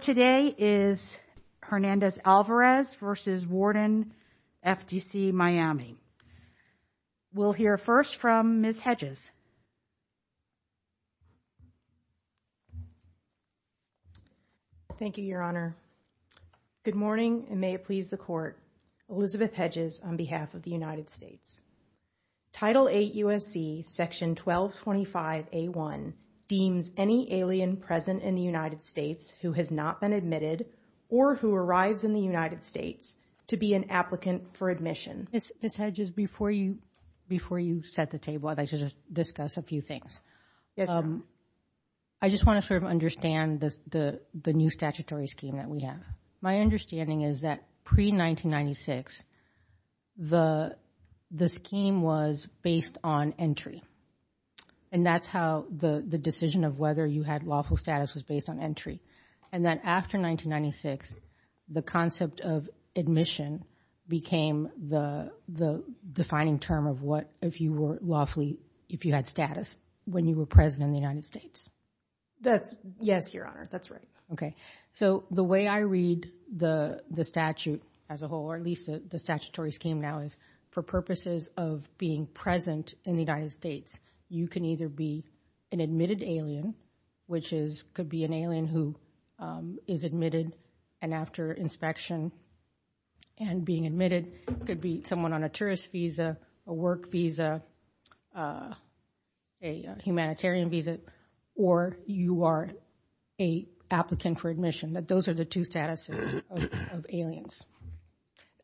Today is Hernandez Alvarez v. Warden, FDC Miami. We'll hear first from Ms. Hedges. Thank you, Your Honor. Good morning and may it please the Court. Elizabeth Hedges, on behalf of the United States. Title VIII U.S.C. Section 1225A1 deems any alien present in the United States who has not been admitted or who arrives in the United States to be an applicant for admission. Ms. Hedges, before you set the table, I'd like to discuss a few things. I just want to sort of understand the new statutory scheme that we have. My understanding is that pre-1996, the scheme was based on entry and that's how the decision of whether you had lawful status was based on entry. And then after 1996, the concept of admission became the defining term of what, if you were lawfully, if you had status when you were present in the United States. That's, yes, Your Honor, that's right. Okay, so the way I read the statute as a whole, or at least the statutory scheme now, is for purposes of being present in the United States, you can either be an admitted alien, which is, could be an alien who is admitted and after inspection and being admitted, could be someone on a tourist visa, a work visa, a humanitarian visa, or you are a applicant for admission. But those are the two statuses of aliens.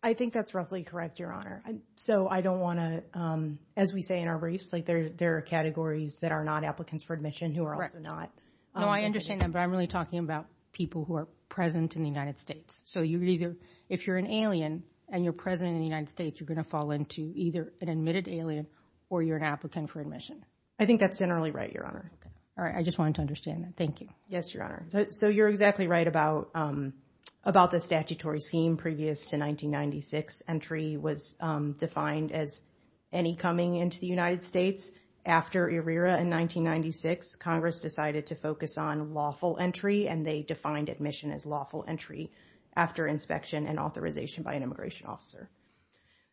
I think that's roughly correct, Your Honor. And so I don't want to, as we say in our race, there are categories that are not applicants for admission who are also not. No, I understand that, but I'm really talking about people who are present in the United States. So you either, if you're an alien and you're present in the United States, you're going to fall into either an admitted alien or you're an applicant for admission. I think that's generally right, Your Honor. All right, I just wanted to understand that. Thank you. Yes, Your Honor. So you're exactly right about the statutory scheme previous to 1996. Entry was defined as any coming into the United States. After ERIRA in 1996, Congress decided to focus on lawful entry and they defined admission as lawful entry after inspection and authorization by an immigration officer.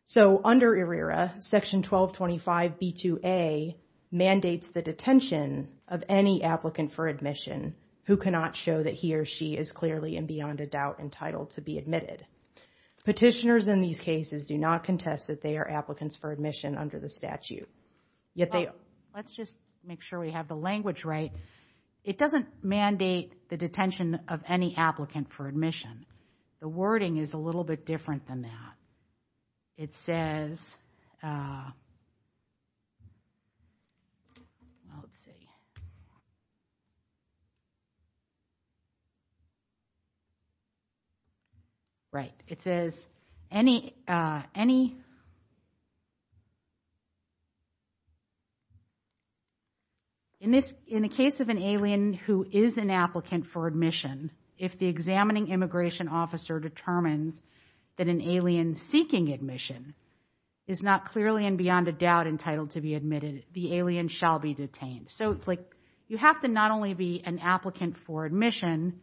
So under ERIRA, Section 1225B2A mandates the detention of any applicant for admission who cannot show that he or she is clearly and beyond a doubt entitled to be admitted. Petitioners in these cases do not contest that they are applicants for admission under the statute. Let's just make sure we have the language right. It doesn't mandate the detention of any applicant for admission. The wording is a little bit different than that. It says, right, it says, in the case of an alien who is an applicant for admission, if the examining immigration officer determines that an alien seeking admission is not clearly and beyond a doubt entitled to be admitted, the alien shall be detained. So you have to not only be an applicant for admission,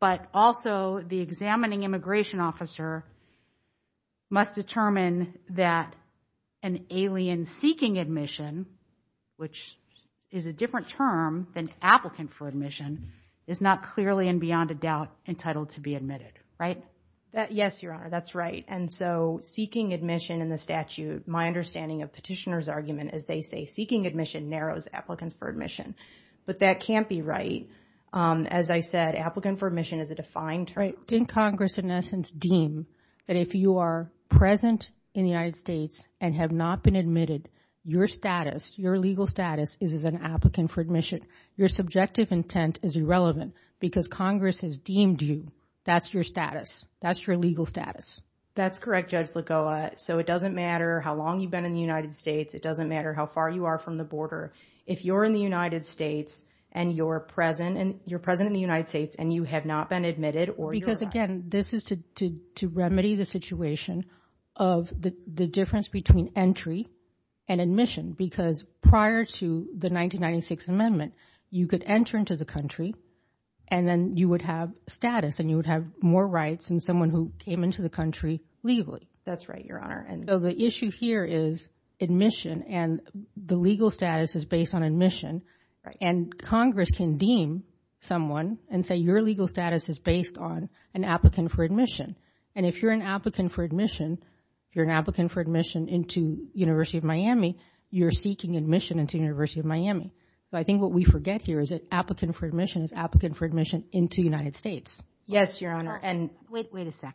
but also the examining immigration officer must determine that an alien seeking admission, which is a different term than applicant for admission, is not clearly and beyond a doubt entitled to be admitted, right? Yes, Your Honor, that's right. And so seeking admission in the statute, my understanding of petitioners' argument is they say seeking admission narrows applicants for admission. But that can't be right. As I said, applicant for admission is a defined term. Didn't Congress in essence deem that if you are present in the United States and have not been admitted, your status, your legal status is as an applicant for admission. Your subjective intent is irrelevant because Congress has deemed you. That's your status. That's your legal status. That's correct, Judge Lagoa. So it doesn't matter how long you've been in the United States. It doesn't matter if you're in the United States and you're present and you're present in the United States and you have not been admitted or not. Because again, this is to remedy the situation of the difference between entry and admission. Because prior to the 1996 amendment, you could enter into the country and then you would have status and you would have more rights than someone who came into the country legally. That's right, Your Honor. And so the issue here is admission and the legal status is based on admission. And Congress can deem someone and say your legal status is based on an applicant for admission. And if you're an applicant for admission, you're an applicant for admission into University of Miami, you're seeking admission into University of Miami. So I think what we forget here is that applicant for admission is applicant for admission into United States. Yes, Your Honor. And wait a second.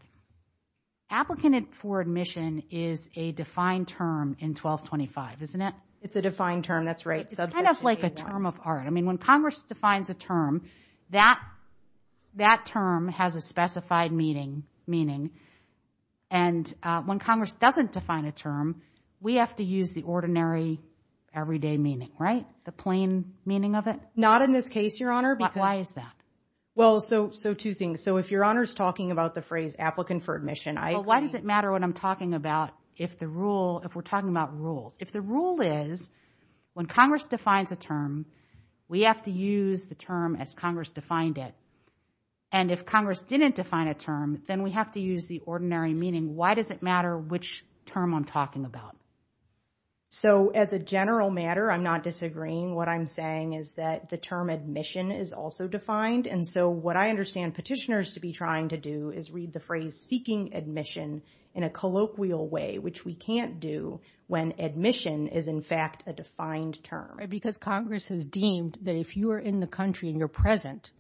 Applicant for admission is a defined term in 1225, isn't it? It's a defined term. That's right. It's kind of like a term of art. I mean, when Congress defines a term, that that term has a specified meaning. And when Congress doesn't define a term, we have to use the ordinary everyday meaning, right? The plain meaning of it. Not in this case, Your Honor. But why is that? Well, so two things. So if Your Honor is talking about the phrase applicant for admission, why does it matter what I'm talking about if the rule, if we're talking about rule, if the rule is when Congress defines a term, we have to use the term as Congress defined it. And if Congress didn't define a term, then we have to use the ordinary meaning. Why does it matter which term I'm talking about? So as a general matter, I'm not disagreeing. What I'm saying is that the term admission is also defined. And so what I understand petitioners to be trying to do is read the phrase seeking admission in a colloquial way, which we can't do when admission is, in fact, a defined term. Because Congress has deemed that if you are in the country and you're present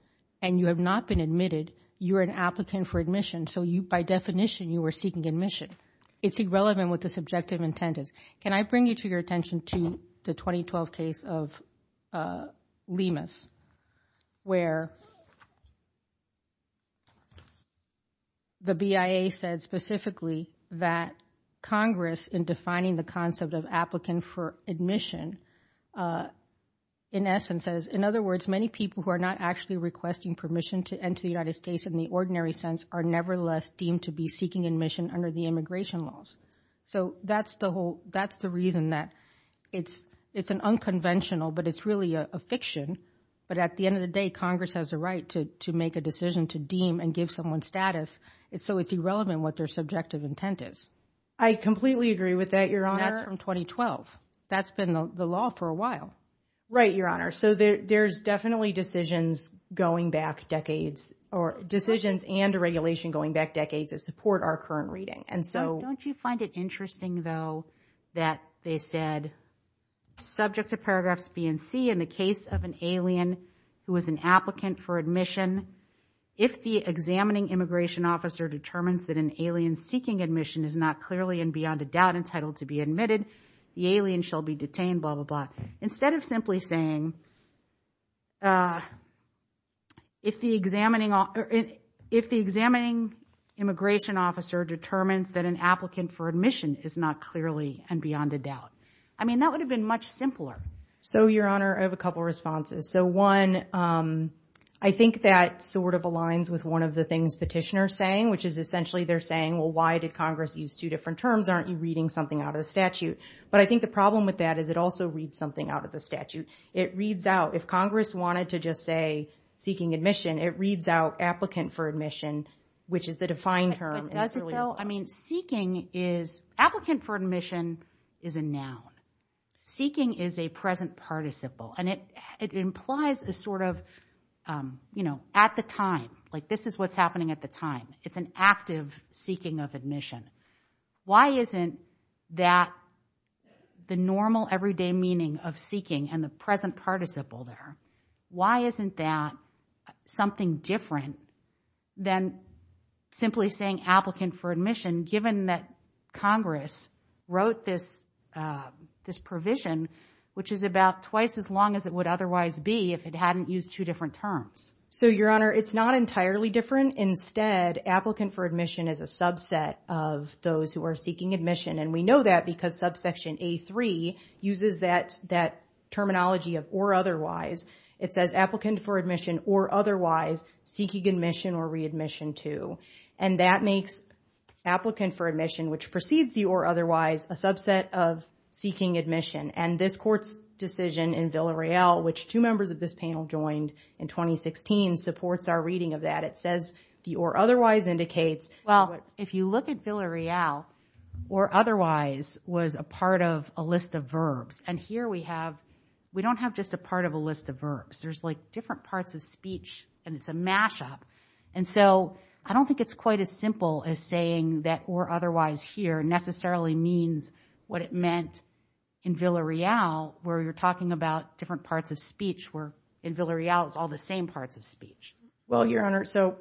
and you have not been admitted, you're an applicant for admission. So by definition, you are seeking admission. It's irrelevant what the subjective intent is. Can I bring you to your the 2012 case of Lemus, where the BIA said specifically that Congress, in defining the concept of applicant for admission, in essence says, in other words, many people who are not actually requesting permission to enter the United States in the ordinary sense are nevertheless deemed to be seeking admission under the immigration laws. So that's the whole that's the reason that it's it's an unconventional, but it's really a fiction. But at the end of the day, Congress has the right to make a decision to deem and give someone status. So it's irrelevant what their subjective intent is. I completely agree with that, Your Honor. That's from 2012. That's been the law for a while. Right, Your Honor. So there's definitely decisions going back decades or decisions and regulation going back decades that support our current reading. And so don't you find it interesting, though, that they said, subject to paragraphs B and C, in the case of an alien who is an applicant for admission, if the examining immigration officer determines that an alien seeking admission is not clearly and beyond a doubt entitled to be admitted, the alien shall be detained, blah, blah, blah. Instead of simply saying, if the examining immigration officer determines that an applicant for admission is not clearly and beyond a doubt. I mean, that would have been much simpler. So, Your Honor, I have a couple of responses. So one, I think that sort of aligns with one of the things petitioners are saying, which is essentially they're saying, well, why did Congress use two different terms? Aren't you reading something out of the statute? But I think the problem with that is it also reads something out of the statute. It reads out of the statute, but it doesn't read out. If Congress wanted to just say seeking admission, it reads out applicant for admission, which is the defined term. I mean, seeking is, applicant for admission is a noun. Seeking is a present participle. And it implies a sort of, you know, at the time, like this is what's happening at the time. It's an active seeking of admission. Why isn't that the normal everyday meaning of seeking and the present participle there? Why isn't that something different than simply saying applicant for admission, given that Congress wrote this provision, which is about twice as long as it would otherwise be if it hadn't used two different terms? So, Your Honor, it's not entirely different. Instead, applicant for admission is a subset of those who are seeking admission. And we know that because subsection A3 uses that terminology of or otherwise. It says applicant for admission or otherwise, seeking admission or readmission to. And that makes applicant for admission, which precedes the or otherwise, a subset of seeking admission. And this court's decision in Villa Real, which two members of this panel joined in 2016, supports our reading of that. It says the or otherwise indicates. Well, if you look at Villa Real, or otherwise was a part of a list of verbs. And here we have, we don't have just a part of a list of verbs. There's like different parts of speech, and it's a mashup. And so I don't think it's quite as simple as saying that or otherwise here necessarily means what it meant in Villa Real, where you're talking about different parts of speech, where in Villa Real, it's all the same parts of speech. Well, Your Honor, so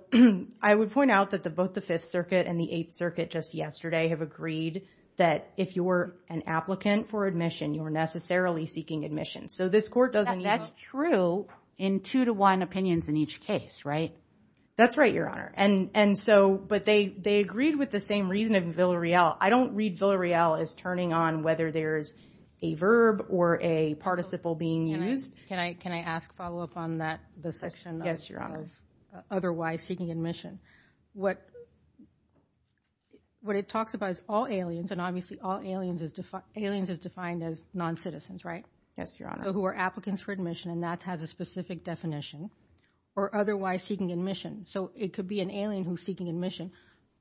I would point out that both the Fifth Circuit and the Eighth Circuit just yesterday have agreed that if you were an applicant for admission, you were necessarily seeking admission. So this court doesn't. That's true in two to one opinions in each case, right? That's right, Your Honor. And so, but they agreed with the same reason in Villa Real. I don't read Villa Real as turning on whether there's a verb or a participle being used. Can I ask follow up on that section? Yes, Your Honor. Otherwise seeking admission. What it talks about is all aliens, and obviously all aliens is defined as non-citizens, right? Yes, Your Honor. So who are applicants for admission, and that has a specific definition, or otherwise seeking admission. So it could be an alien who's seeking admission,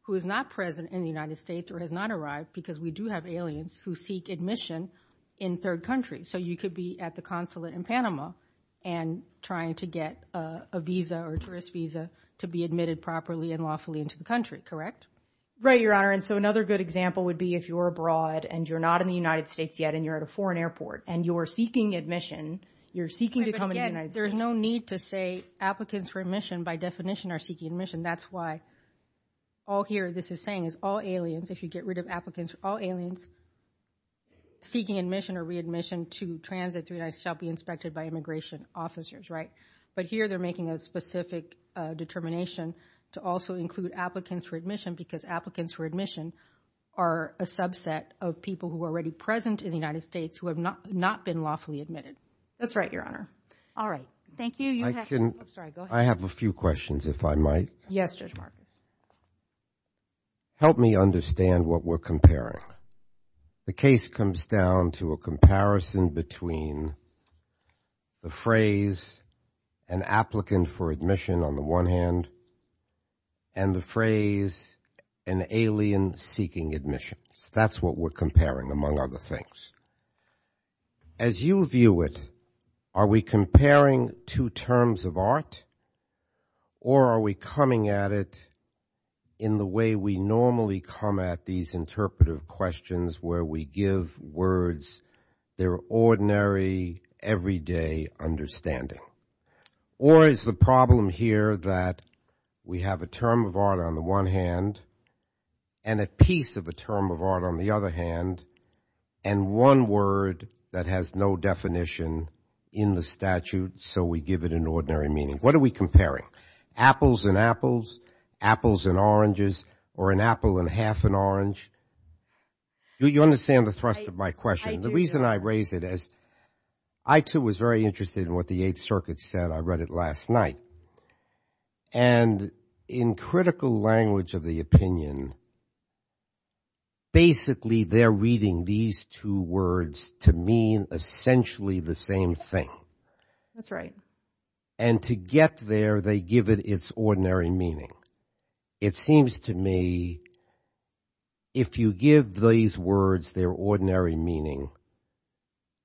who is not present in the United States or has not arrived, because we do have aliens who seek admission in third country. So you could be at the consulate in Panama and trying to get a visa or tourist visa to be admitted properly and lawfully into the country, correct? Right, Your Honor. And so another good example would be if you're abroad and you're not in the United States yet, and you're at a foreign airport, and you're seeking admission, you're seeking to come in. There's no need to say applicants for admission by definition are seeking admission. That's why all here, this is saying it's all aliens. If you get rid of applicants, all aliens seeking admission or readmission to transit through the United States shall be inspected by immigration officers, right? But here they're making a specific determination to also include applicants for admission because applicants for admission are a subset of people who are already present in the United States who have not been lawfully admitted. That's right, Your Honor. All right. Thank you. I have a few questions if I might. Yes. Judge Martin. Help me understand what we're comparing. The case comes down to a comparison between the phrase an applicant for admission on the one hand and the phrase an alien seeking admission. That's what we're comparing among other things. As you view it, are we comparing two terms of art or are we coming at it in the way we normally come at these interpretive questions where we give words their ordinary everyday understanding? Or is the problem here that we have a term of art on the one hand and a piece of a term of art on the other hand and one word that has no definition in the statute so we give it an ordinary meaning? What are we comparing? Apples and apples, apples and oranges, or an apple and half an orange? Do you understand the thrust of my question? The reason I raise it is I too was very interested in what the Eighth Circuit said. I read it last night. In critical language of the opinion, basically they're reading these two words to mean essentially the same thing. And to get there, they give it its ordinary meaning. It seems to me if you give these words their ordinary meaning,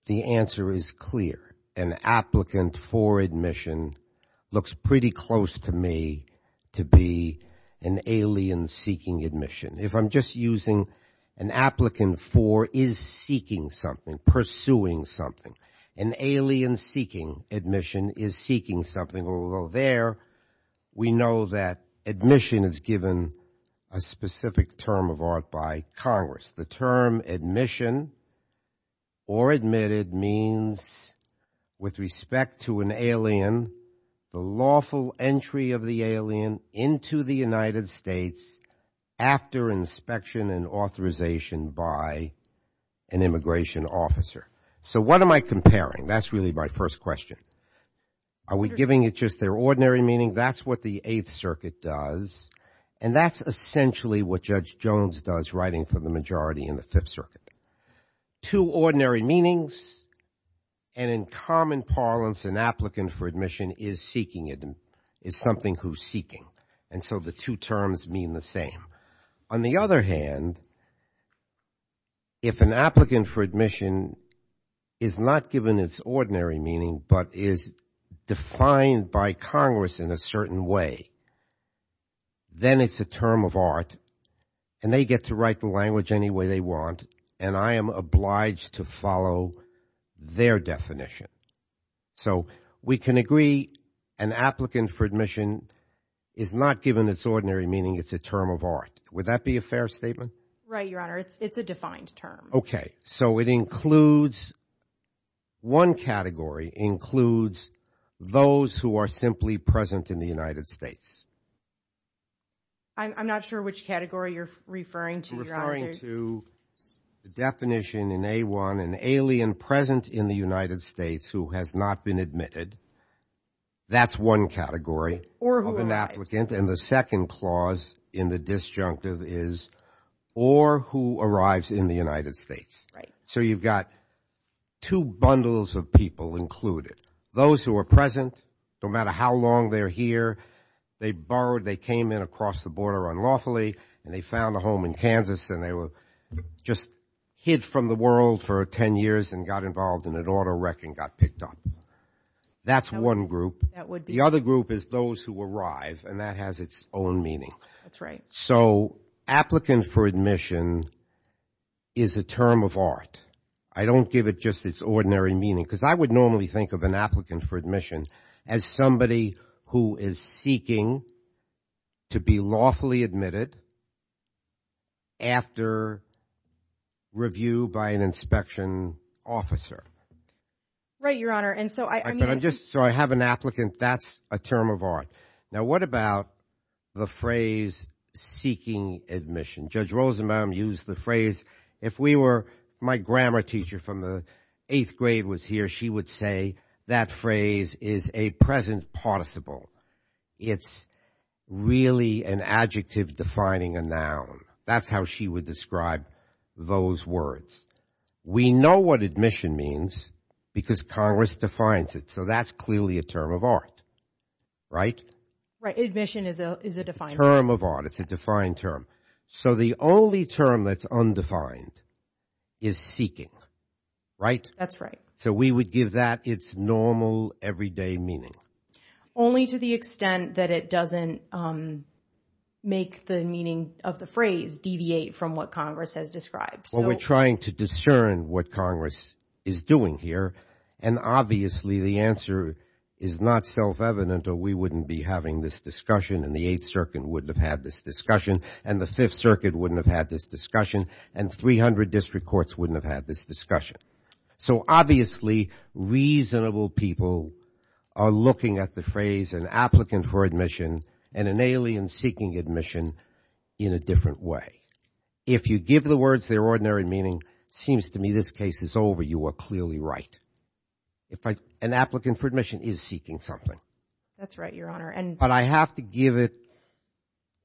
the answer is clear. An applicant for admission looks pretty close to me to be an alien seeking admission. If I'm just using an applicant for is seeking something, pursuing something, an alien seeking admission is seeking something, although there we know that admission is given a specific term of art by Congress. The term admission or admitted means with respect to an alien, the lawful entry of the alien into the United States after inspection and authorization by an immigration officer. So what am I comparing? That's really my first question. Are we giving it just their ordinary meaning? That's what the Eighth Circuit does. And that's essentially what Judge Jones does writing for the majority in the Fifth Circuit. Two ordinary meanings and in common parlance, an applicant for admission is seeking it. It's something who's seeking. And so the two terms mean the same. On the other hand, if an applicant for admission is not given its ordinary meaning but is defined by Congress in a certain way, then it's a term of art and they get to write the language any way they want. And I am obliged to follow their definition. So we can agree an applicant for admission is not given its ordinary meaning. It's a term of art. Would that be a fair statement? Right. Your Honor, it's a defined term. OK. So it includes one category, includes those who are simply present in the United States. I'm not sure which category you're referring to. Referring to the definition in A1, an alien present in the United States who has not been admitted. That's one category of an applicant. And the second clause in the disjunctive is or who arrives in the United States. So you've got two bundles of people included. Those who are present, no matter how long they're here, they borrowed, they came in across the border unlawfully and they found a home in Kansas and they were just hid from the world for 10 years and got involved in an auto wreck and got picked up. That's one group. The other group is those who arrive and that has its own meaning. That's right. So applicant for admission is a term of art. I don't give it just its ordinary meaning, because I would normally think of an applicant for admission as somebody who is seeking to be lawfully admitted. After review by an inspection officer. Right, Your Honor. And so I just so I have an applicant. That's a term of art. Now, what about the phrase seeking admission? Judge Rosenbaum used the phrase. If we were my grammar teacher from the eighth grade was here, she would say that phrase is a present possible. It's really an adjective defining a noun. That's how she would describe those words. We know what admission means because Congress defines it. So that's clearly a term of art. Right. Right. Admission is a term of art. It's a defined term. So the only term that's undefined is seeking. Right. That's right. So we would give that its normal everyday meaning only to the extent that it doesn't make the meaning of the phrase deviate from what Congress has described. Well, we're trying to discern what Congress is doing here. And obviously, the answer is not self-evident or we wouldn't be having this discussion. And the Eighth Circuit wouldn't have had this discussion. And the Fifth Circuit wouldn't have had this discussion. And 300 district courts wouldn't have had this discussion. So obviously, reasonable people are looking at the phrase an applicant for admission and an alien seeking admission in a different way. If you give the words their ordinary meaning, seems to me this case is over. You are clearly right. If an applicant for admission is seeking something. That's right, Your Honor. But I have to give it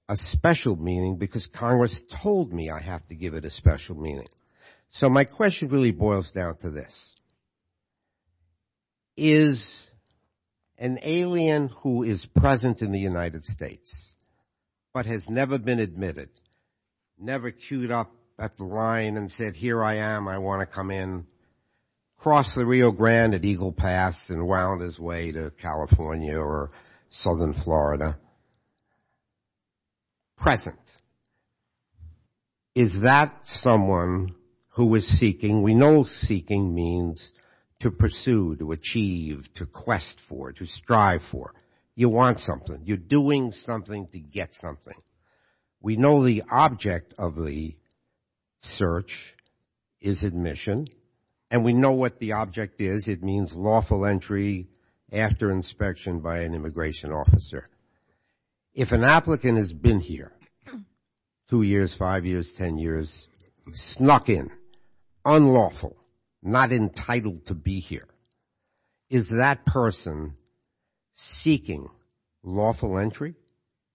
a special meaning because Congress told me I have to give it a special meaning. So my question really boils down to this. Is an alien who is present in the United States, but has never been admitted, never queued up at the line and said, here I am, I want to come in, crossed the Rio Grande at Eagle Pass and wound his way to California or Southern Florida, present. Is that someone who is seeking? We know seeking means to pursue, to achieve, to quest for, to strive for. You want something. You're doing something to get something. We know the object of the search is admission and we know what the object is. It means lawful entry after inspection by an immigration officer. If an applicant has been here two years, five years, ten years, snuck in, unlawful, not entitled to be here. Is that person seeking lawful entry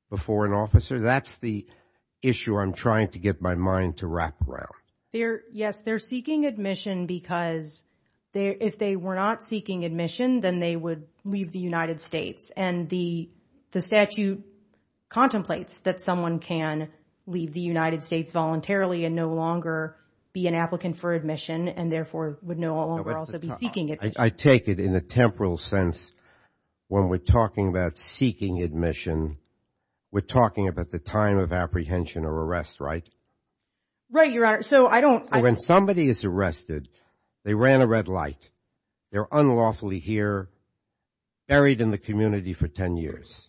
before an officer? That's the issue I'm trying to get my mind to wrap around. They're, yes, they're seeking admission because if they were not seeking admission, then they would leave the United States. And the statute contemplates that someone can leave the United States voluntarily and no longer be an applicant for admission and therefore would no longer also be seeking it. I take it in a temporal sense when we're talking about seeking admission, we're talking about the time of apprehension or arrest, right? Right, Your Honor. So I don't... When somebody is arrested, they ran a red light. They're unlawfully here, buried in the community for ten years.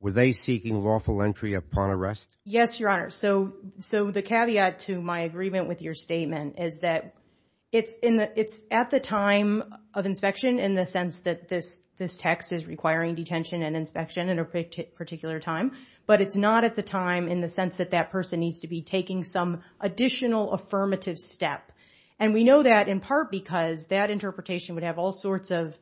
Were they seeking lawful entry upon arrest? Yes, Your Honor. So the caveat to my agreement with your statement is that it's at the time of inspection in the sense that this text is requiring detention and inspection at a particular time, but it's not at the time in the sense that that person needs to be taking some additional affirmative steps. And we know that in part because that interpretation would have all sorts of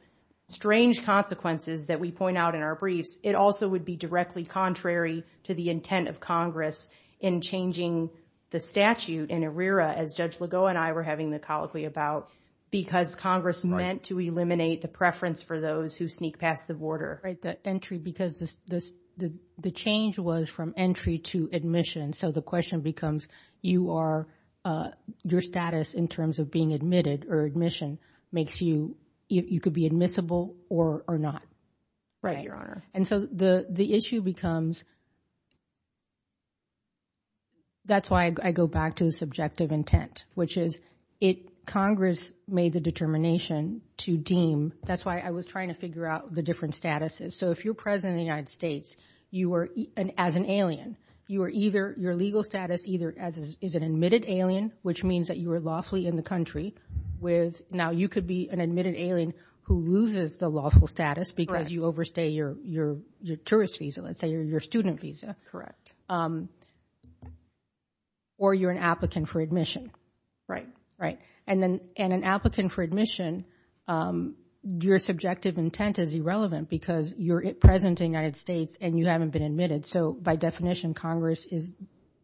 strange consequences that we point out in our brief. It also would be directly contrary to the intent of Congress in changing the statute in ARERA, as Judge Legault and I were having the colloquy about, because Congress meant to eliminate the preference for those who sneak past the border. Right, the entry because the change was from entry to admission. So the question becomes, you are... Your status in terms of being admitted or admission makes you... You could be admissible or not. Right, Your Honor. And so the issue becomes... That's why I go back to the subjective intent, which is it... Congress made the determination to deem... That's why I was trying to figure out the different statuses. So if you're president of the United States, you are... As an alien, you are either... Your legal status either is an admitted alien, which means that you were lawfully in the country with... Now you could be admitted alien who loses the lawful status because you overstay your tourist visa, let's say, or your student visa. That's correct. Or you're an applicant for admission. Right. Right. And then... And an applicant for admission, your subjective intent is irrelevant because you're president of the United States and you haven't been admitted. So by definition, Congress is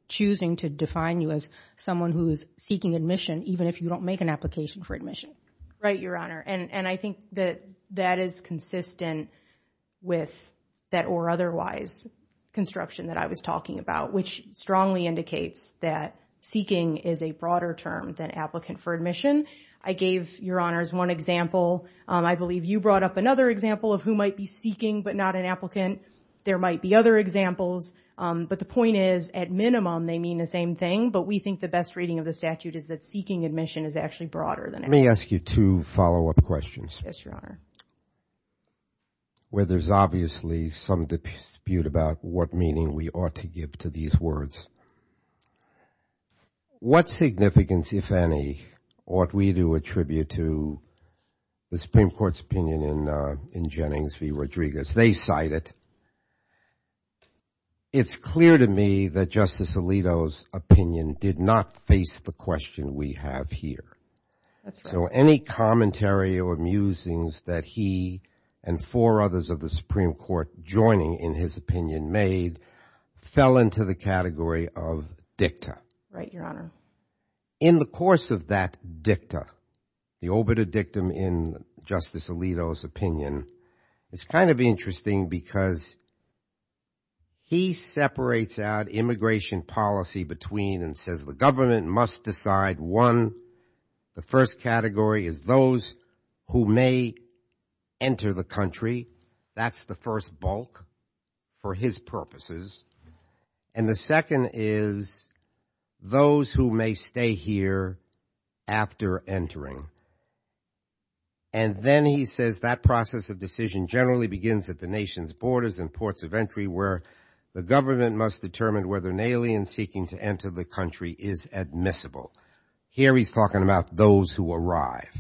choosing to define you as someone who's seeking admission, even if you don't make an application for admission. Right, Your Honor. And I think that that is consistent with that or otherwise construction that I was talking about, which strongly indicates that seeking is a broader term than applicant for admission. I gave, Your Honors, one example. I believe you brought up another example of who might be seeking but not an applicant. There might be other examples, but the point is, at minimum, they mean the same thing. But we think the best reading of the Let me ask you two follow-up questions. Yes, Your Honor. Where there's obviously some dispute about what meaning we ought to give to these words. What significance, if any, ought we do attribute to the Supreme Court's opinion in Jennings v. Rodriguez? They cite it. It's clear to me that Justice Alito's opinion did not face the question we have here. So any commentary or musings that he and four others of the Supreme Court joining in his opinion made fell into the category of dicta. Right, Your Honor. In the course of that dicta, the obit of dictum in Justice Alito's opinion, it's kind of interesting because he separates out immigration policy between and says the government must decide one, the first category is those who may enter the country. That's the first bulk for his purposes. And the second is those who may stay here after entering. And then he says that process of decision generally begins at the nation's borders and ports of entry where the government must determine whether an alien seeking to enter the country is admissible. Here he's talking about those who arrive.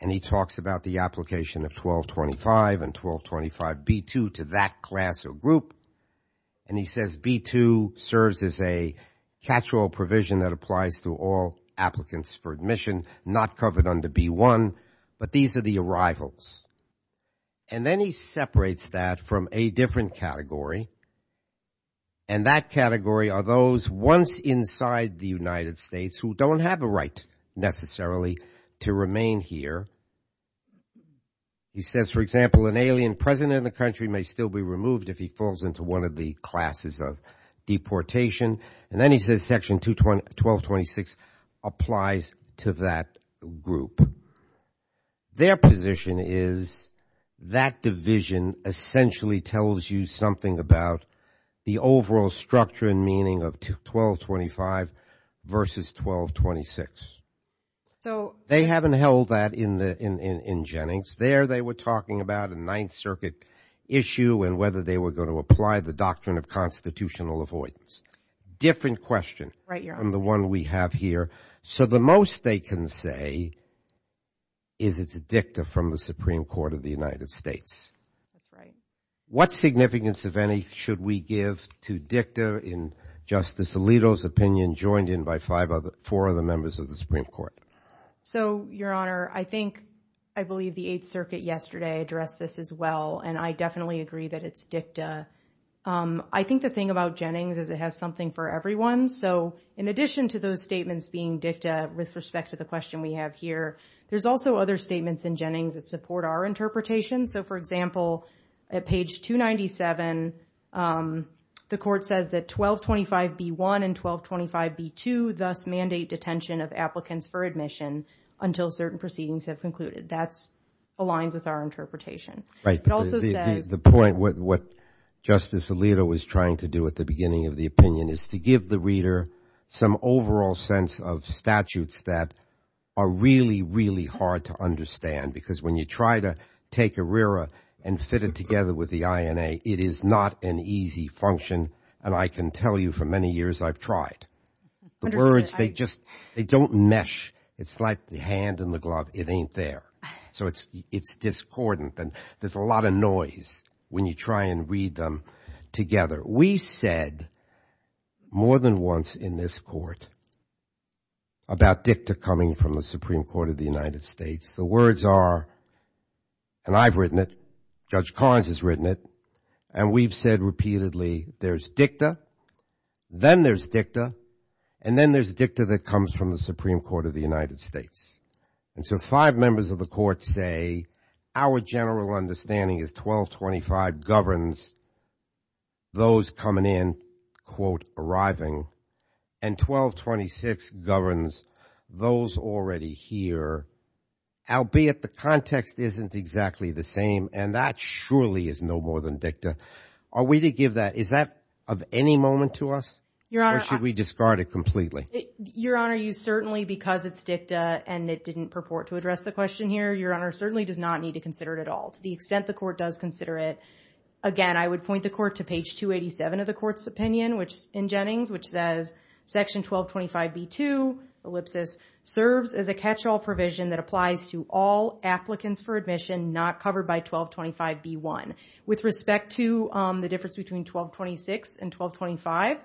And he talks about the application of 1225 and 1225 B-2 to that class or group. And he says B-2 serves as a catch-all provision that applies to all applicants for admission, not covered under B-1, but these are the arrivals. And then he separates that from a different category. And that category are those once inside the United States who don't have a right necessarily to remain here. He says, for example, an alien present in the country may still be removed if he falls into one of the classes of deportation. And then he says section 1226 applies to that group. Their position is that division essentially tells you something about the overall structure and meaning of 1225 versus 1226. They haven't held that in Jennings. There they were talking about a Ninth Circuit issue and whether they were going to apply the doctrine of constitutional avoidance. Different question from the one we have here. So the most they can say is it's a dicta from the Supreme Court of the United States. What significance, if any, should we give to dicta in Justice Alito's opinion, joined in by four other members of the Supreme Court? So, Your Honor, I think, I believe the Eighth Circuit yesterday addressed this as well. And the thing about Jennings is it has something for everyone. So in addition to those statements being dicta with respect to the question we have here, there's also other statements in Jennings that support our interpretation. So, for example, at page 297, the court says that 1225B1 and 1225B2 thus mandate detention of applicants for admission until certain proceedings have concluded. That aligns with our interpretation. Right. The point what Justice Alito was trying to do at the beginning of the opinion is to give the reader some overall sense of statutes that are really, really hard to understand, because when you try to take a RERA and fit it together with the INA, it is not an easy function. And I can tell you for many years I've tried. The words, they just they don't mesh. It's like the hand in the glove. It ain't there. So it's discordant. And there's a lot of noise when you try and read them together. We said more than once in this court about dicta coming from the Supreme Court of the United States. The words are, and I've written it, Judge Collins has written it, and we've said repeatedly there's dicta, then there's dicta, and then there's dicta that comes from the Supreme Court of the United States. And so five members of the court say our general understanding is 1225 governs those coming in, quote, arriving, and 1226 governs those already here, albeit the context isn't exactly the same. And that surely is no more than dicta. Are we to give that, is that of any moment to us? Or should we discard it completely? Your Honor, certainly because it's dicta and it didn't purport to address the question here, Your Honor certainly does not need to consider it at all. To the extent the court does consider it, again, I would point the court to page 287 of the court's opinion, which in Jennings, which says section 1225B2, ellipsis, serves as a catch-all provision that applies to all applicants for admission not covered by 1225B1. With respect to the difference between 1226 and 1225,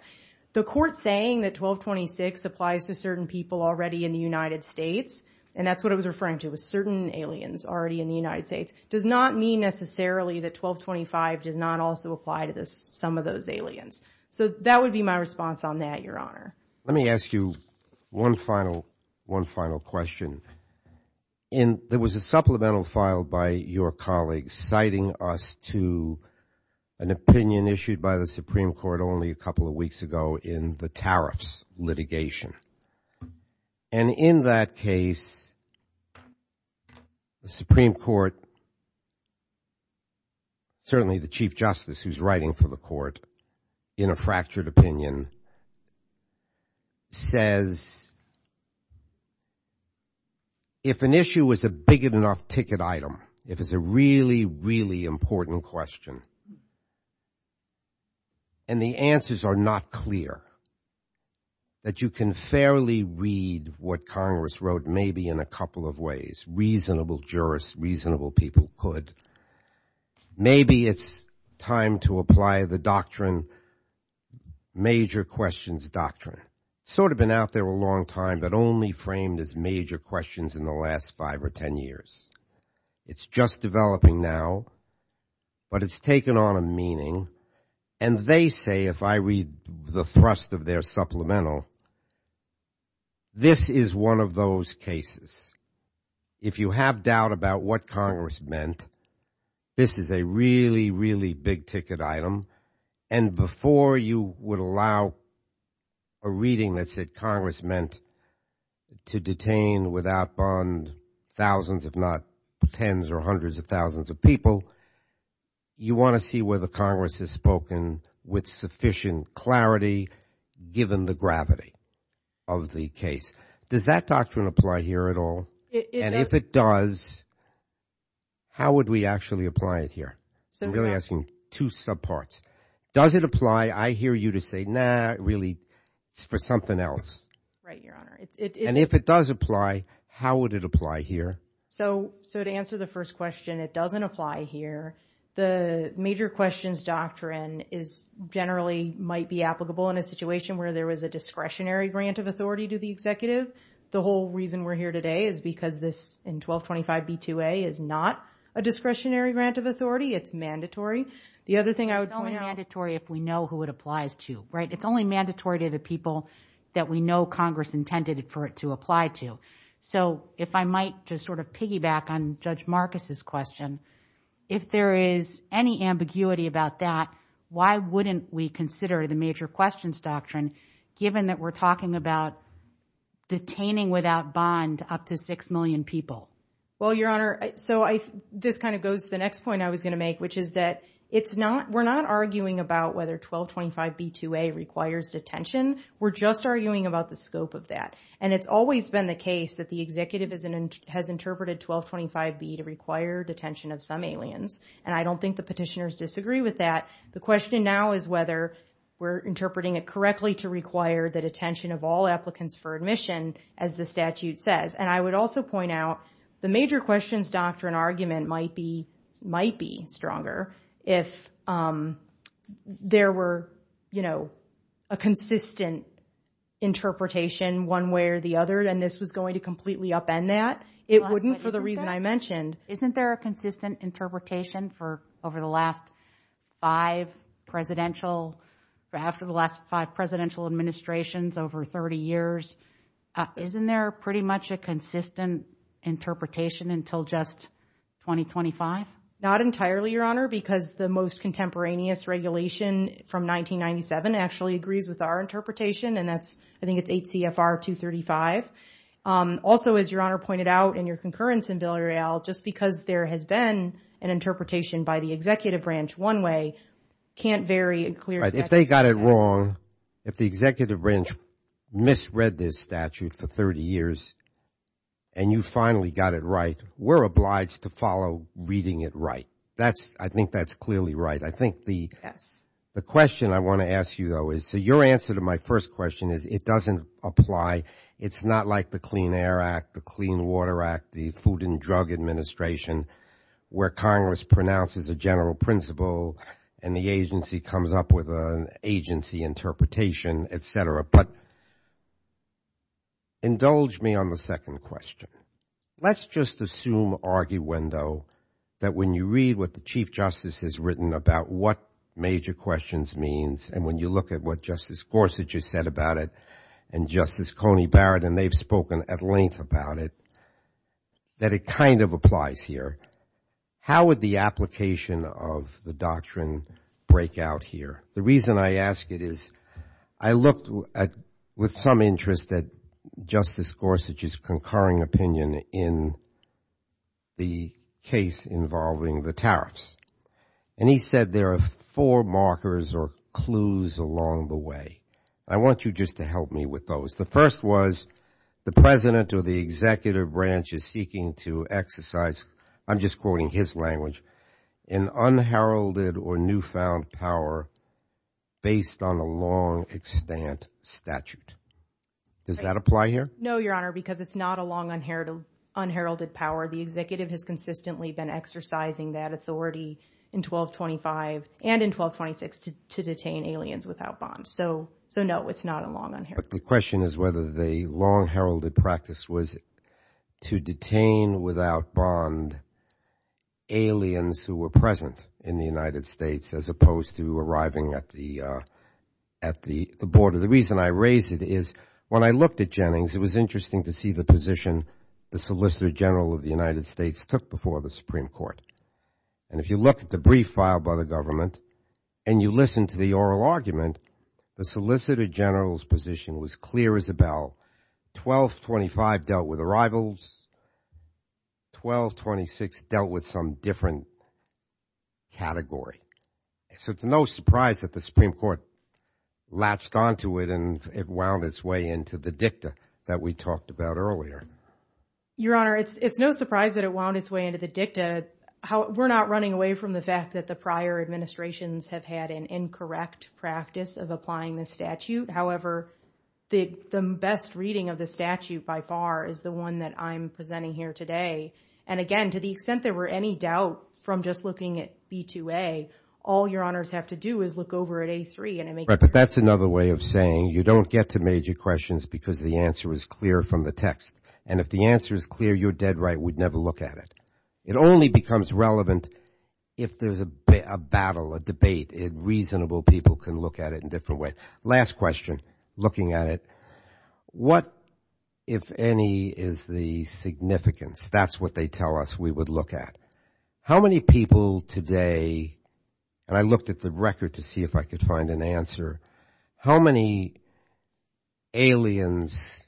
the court saying that 1226 applies to certain people already in the United States, and that's what I was referring to, with certain aliens already in the United States, does not mean necessarily that 1225 does not also apply to some of those aliens. So that would be my response on that, Your Honor. Let me ask you one final question. And there was a supplemental filed by your colleagues citing us to an opinion issued by the Supreme Court only a couple of weeks ago in the tariffs litigation. And in that case, the Supreme Court, certainly the Chief Justice who's writing for the court in a fractured opinion, says, if an issue was a big enough ticket item, if it's a really, really important question, and the answers are not clear, that you can fairly read what Congress wrote, maybe in a couple of ways. Reasonable jurists, reasonable people could. Maybe it's time to apply the doctrine, major questions doctrine. Sort of been out there a long time, but only framed as major questions in the last five or ten years. It's just developing now. But it's taken on a meaning. And they say, if I read the thrust of their supplemental, this is one of those cases. If you have doubt about what Congress meant, this is a really, really big ticket item. And before you would allow a reading that said Congress meant to detain without bond thousands, if not tens or hundreds of thousands of people, you want to see whether Congress has spoken with sufficient clarity, given the gravity of the case. Does that doctrine apply here at all? And if it does, how would we actually apply it here? I'm really asking two subparts. Does it apply, I hear you to say, nah, really, it's for something else. And if it does apply, how would it apply here? So to answer the first question, it doesn't apply here. The major questions doctrine is generally might be applicable in a situation where there was a discretionary grant of authority to the executive. The whole reason we're here today is because this in 1225 B2A is not a discretionary grant of authority. It's mandatory. The other thing I mandatory if we know who it applies to. Right. It's only mandatory to the people that we know Congress intended for it to apply to. So if I might just sort of piggyback on Judge Marcus's question, if there is any ambiguity about that, why wouldn't we consider the major questions doctrine, given that we're talking about detaining without bond up to six million people? Well, Your Honor, so I just kind of go to the next point I was going to make, which is that we're not arguing about whether 1225 B2A requires detention. We're just arguing about the scope of that. And it's always been the case that the executive has interpreted 1225 B to require detention of some aliens. And I don't think the petitioners disagree with that. The question now is whether we're interpreting it correctly to require the detention of all applicants for admission, as the statute says. And I would also point out the major questions doctrine argument might be stronger if there were, you know, a consistent interpretation one way or the other, and this was going to completely upend that. It wouldn't for the reason I mentioned. Isn't there a consistent interpretation for over the last five presidential, after the last five presidential administrations over 30 years? Isn't there pretty much a consistent interpretation until just 2025? Not entirely, Your Honor, because the most contemporaneous regulation from 1997 actually agrees with our interpretation. And that's, I think it's 8 CFR 235. Also, as Your Honor pointed out in your concurrence in Bill et al., just because there has been an interpretation by the executive branch one way, can't vary. If they got it wrong, if the executive branch misread this statute for 30 years and you finally got it right, we're obliged to follow reading it right. I think that's clearly right. I think the question I want to ask you, though, is to your answer to my first question is it doesn't apply. It's not like the Clean Air Act, the Clean Water Act, the Food and Drug Administration, where Congress pronounces a general principle and the agency comes up with an agency interpretation, et cetera. But indulge me on the second question. Let's just assume arguendo that when you read what the Chief Justice has written about what major questions means and when you look at what Justice Gorsuch has said about it and Justice Coney Barrett, and they've spoken at length about it, that it kind of applies here. How would the application of the doctrine break out here? The reason I ask it is I looked with some interest at Justice Gorsuch's concurring opinion in the case involving the tariffs. And he said there are four markers or clues along the way. I want you just to help me with those. The first was the president or the executive branch is seeking to exercise, I'm just quoting his language, an unheralded or newfound power based on a long-extant statute. Does that apply here? No, Your Honor, because it's not a long unheralded power. The executive has consistently been exercising that authority in 1225 and in 1226 to detain aliens without bonds. So no, it's not a long unheralded power. The question is whether the long-heralded practice was to detain without bond aliens who were present in the United States as opposed to arriving at the border. The reason I raise it is when I looked at Jennings, it was interesting to see the position the Solicitor General of the United States took before the Supreme Court. And if you look at the brief filed by the government and you listen to the oral argument, the Solicitor General's position was clear as a bell. 1225 dealt with arrivals. 1226 dealt with some different category. So it's no surprise that the Supreme Court latched onto it and it wound its way into the dicta that we talked about earlier. Your Honor, it's no surprise that it wound its way into the dicta. We're not running away from the fact that the prior administrations have had an incorrect practice of applying the statute. However, the best reading of the statute by far is the one that I'm presenting here today. And again, to the extent there were any doubt from just looking at B2A, all Your Honors have to do is look over at A3. Right, but that's another way of saying you don't get to major questions because the answer is clear from the text. And if the answer is clear, you're dead right, we'd never look at it. It only becomes relevant if there's a battle, a debate, and reasonable people can look at it in different ways. Last question, looking at it, what, if any, is the significance? That's what they tell us we would look at. How many people today, and I looked at the record to see if I could find an answer, how many aliens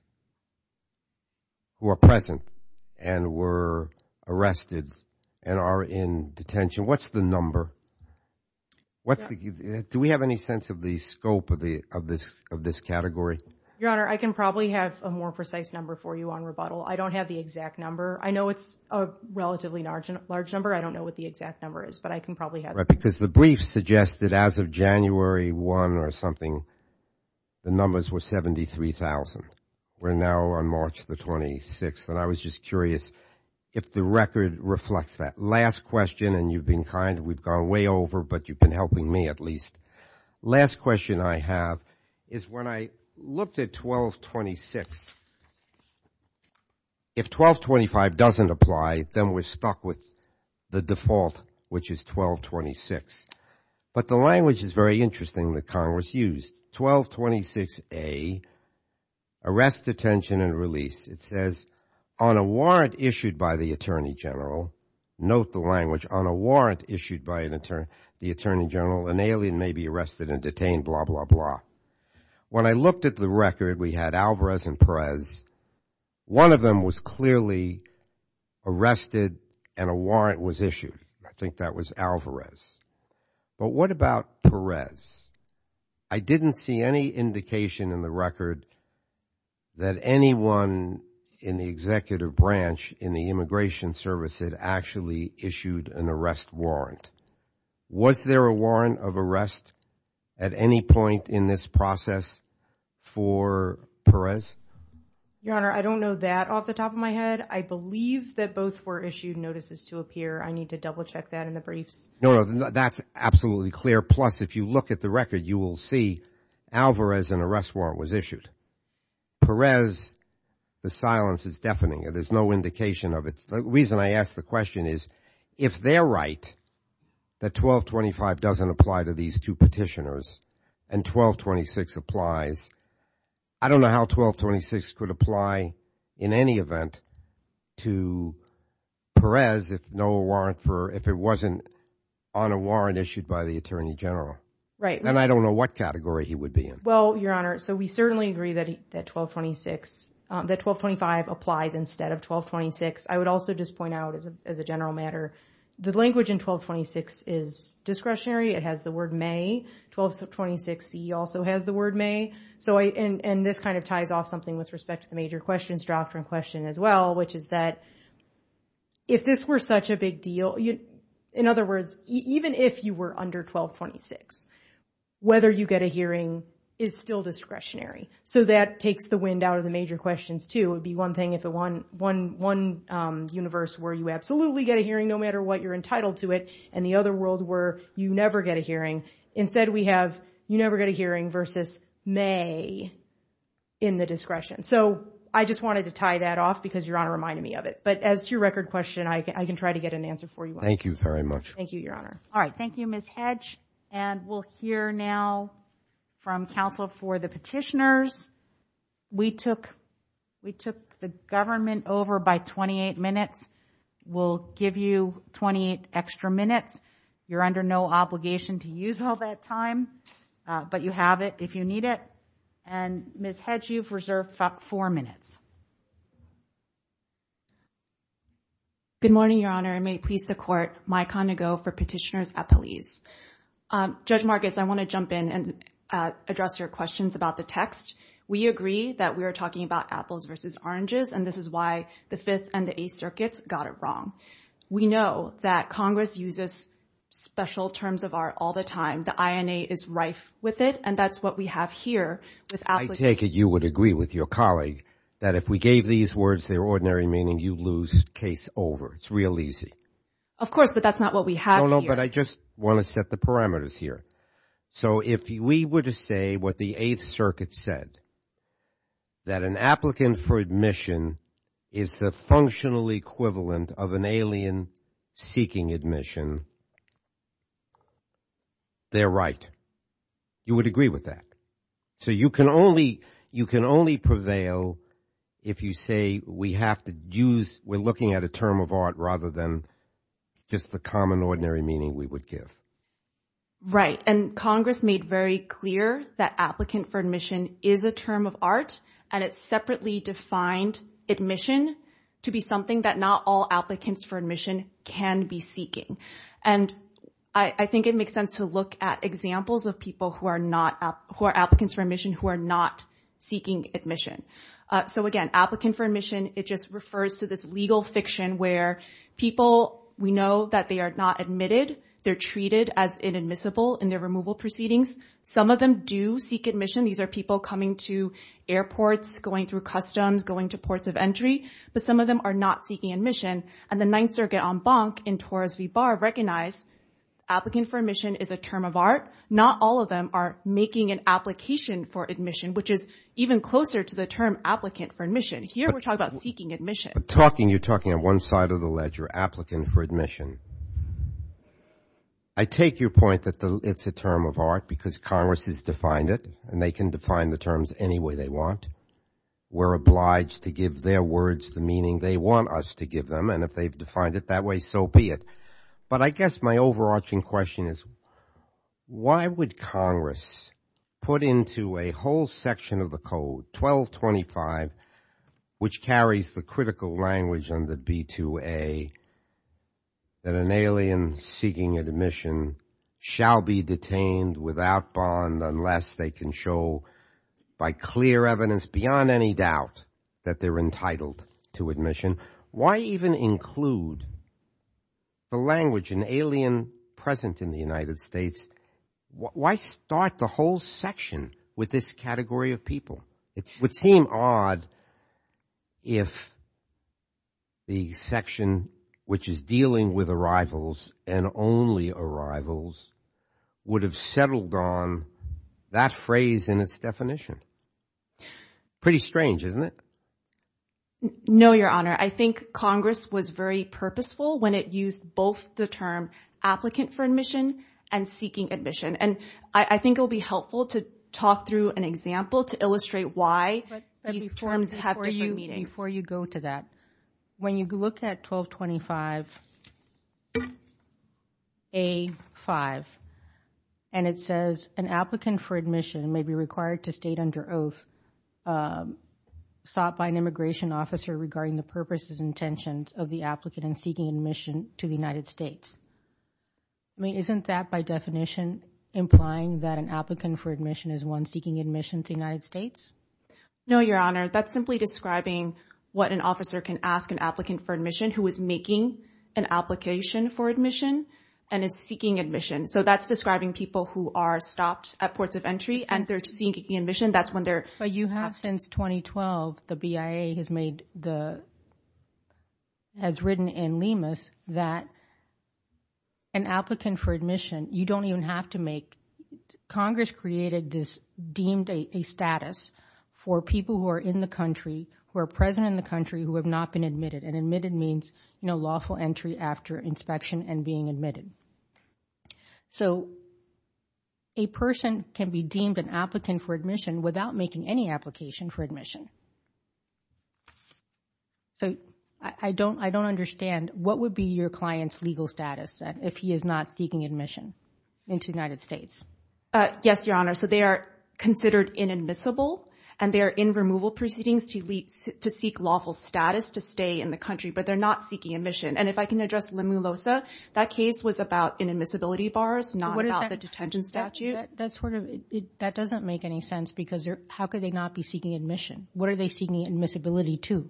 who are present and were arrested and are in detention? What's the number? Do we have any sense of the scope of this category? Your Honor, I can probably have a more precise number for you on rebuttal. I don't have the exact number. I know it's a relatively large number. I don't know what the exact number is, but I can probably have it. Right, because the brief suggested as of January 1 or something, the numbers were 73,000. We're now on March the 26th, and I was just curious if the record reflects that. Last question, and you've been kind, we've gone way over, but you've been helping me at least. Last question I have is when I looked at 1226, if 1225 doesn't apply, then we're stuck with the default, which is 1226. But the language is very interesting that Congress used, 1226A, arrest, detention, and release. It says, on a warrant issued by the Attorney General, note the language, on a warrant issued by the Attorney General, an alien may be arrested and detained, blah, blah, blah. When I looked at the record, we had Alvarez and Perez. One of them was clearly arrested, and a warrant was issued. I think that was Alvarez. But what about Perez? I didn't see any indication in the record that anyone in the executive branch in the Immigration Service had actually issued an arrest warrant. Was there a warrant of arrest at any point in this process for Perez? Your Honor, I don't know that off the top of my head. I believe that both were issued notices to appear. I need to double check that in the brief. No, that's absolutely clear. Plus, if you look at the record, you will see Alvarez, an arrest warrant was issued. Perez, the silence is deafening. There's no indication of it. The reason I ask the question is, if they're right, that 1225 doesn't apply to these two petitioners, and 1226 applies, I don't know how 1226 could apply in any event to Perez if it wasn't on a warrant issued by the Attorney General. And I don't know what category he would be in. Well, Your Honor, so we certainly agree that 1225 applies instead of 1226. I would just point out as a general matter, the language in 1226 is discretionary. It has the word may. 1226c also has the word may. And this kind of ties off something with respect to the major question, which is that if this were such a big deal, in other words, even if you were under 1226, whether you get a hearing is still discretionary. So that takes the wind out of the major questions, too. It would be one thing if one universe were you absolutely get a hearing no matter what you're entitled to it, and the other world were you never get a hearing. Instead, we have you never get a hearing versus may in the discretion. So I just wanted to tie that off because Your Honor reminded me of it. But as to your record question, I can try to get an answer for you. Thank you very much. Thank you, Your Honor. All right. Thank you, Ms. Hedge. And we'll hear now from counsel for the petitioners. We took the government over by 28 minutes. We'll give you 28 extra minutes. You're under no obligation to use all that time, but you have it if you need it. And Ms. Hedge, you've reserved four minutes. Good morning, Your Honor. May it please the Court, my condo for petitioners at the leaves. Judge Marcus, I want to jump in and address your questions about the text. We agree that we are talking about apples versus oranges, and this is why the Fifth and the Eighth Circuits got it wrong. We know that Congress uses special terms of art all the time. The INA is rife with it, and that's what we have here. I take it you would agree with your colleague that if we gave these words their ordinary meaning, you'd lose case over. It's real easy. Of course, but that's not what we have here. No, no, but I just want to set the parameters here. So if we were to say what the Eighth Circuit said, that an applicant for admission is the functional equivalent of an alien seeking admission, they're right. You would agree with that. So you can only prevail if you say we have to use, we're looking at a term of art rather than just the common ordinary meaning we would give. Right, and Congress made very clear that applicant for admission is a term of art, and it separately defined admission to be something that not all applicants for admission can be seeking. And I think it makes sense to look at examples of people who are not, who are applicants for admission who are not seeking admission. So again, applicant for admission, it just refers to this legal fiction where people, we know that they are not admitted. They're treated as inadmissible in their removal proceedings. Some of them do seek admission. These are people coming to airports, going through customs, going to ports of entry, but some of them are not seeking admission. And the Ninth Circuit en banc in Torres v. Barr recognized applicant for admission is a term of art. Not all of them are making an application for admission, which is even closer to the term applicant for admission. Here we're talking about seeking admission. You're talking at one side of the ledger, applicant for admission. I take your point that it's a term of art because Congress has defined it, and they can define the terms any way they want. We're obliged to give their words the meaning they want us to give them, and if they've defined it that way, so be it. But I guess my overarching question is, why would Congress put into a whole section of the code, 1225, which carries the critical language under B2A, that an alien seeking admission shall be detained without bond unless they can show by clear evidence beyond any doubt that they're entitled to admission? Why even include the language, an alien present in the would seem odd if the section which is dealing with arrivals and only arrivals would have settled on that phrase in its definition. Pretty strange, isn't it? No, Your Honor. I think Congress was very purposeful when it used both the term applicant for admission and seeking admission. And I think it'll be helpful to talk through an example to illustrate why these terms have to be used before you go to that. When you look at 1225A5, and it says an applicant for admission may be required to state under oath sought by an immigration officer regarding the purposes and intentions of the applicant in seeking admission to the United States. I mean, isn't that by definition implying that applicant for admission is one seeking admission to the United States? No, Your Honor. That's simply describing what an officer can ask an applicant for admission who is making an application for admission and is seeking admission. So, that's describing people who are stopped at ports of entry and they're seeking admission. That's when they're- But you have since 2012, the BIA has made the- has written in LEMAS that an applicant for admission, you don't even have to make- Congress created this deemed a status for people who are in the country, who are present in the country, who have not been admitted. And admitted means, you know, lawful entry after inspection and being admitted. So, a person can be deemed an applicant for admission without making any application for legal status if he is not seeking admission into the United States. Yes, Your Honor. So, they are considered inadmissible and they're in removal proceedings to seek lawful status to stay in the country, but they're not seeking admission. And if I can address Limulosa, that case was about inadmissibility bars, not about the detention statute. That's sort of- that doesn't make any sense because how could they not be seeking admission? What are they seeking admissibility to?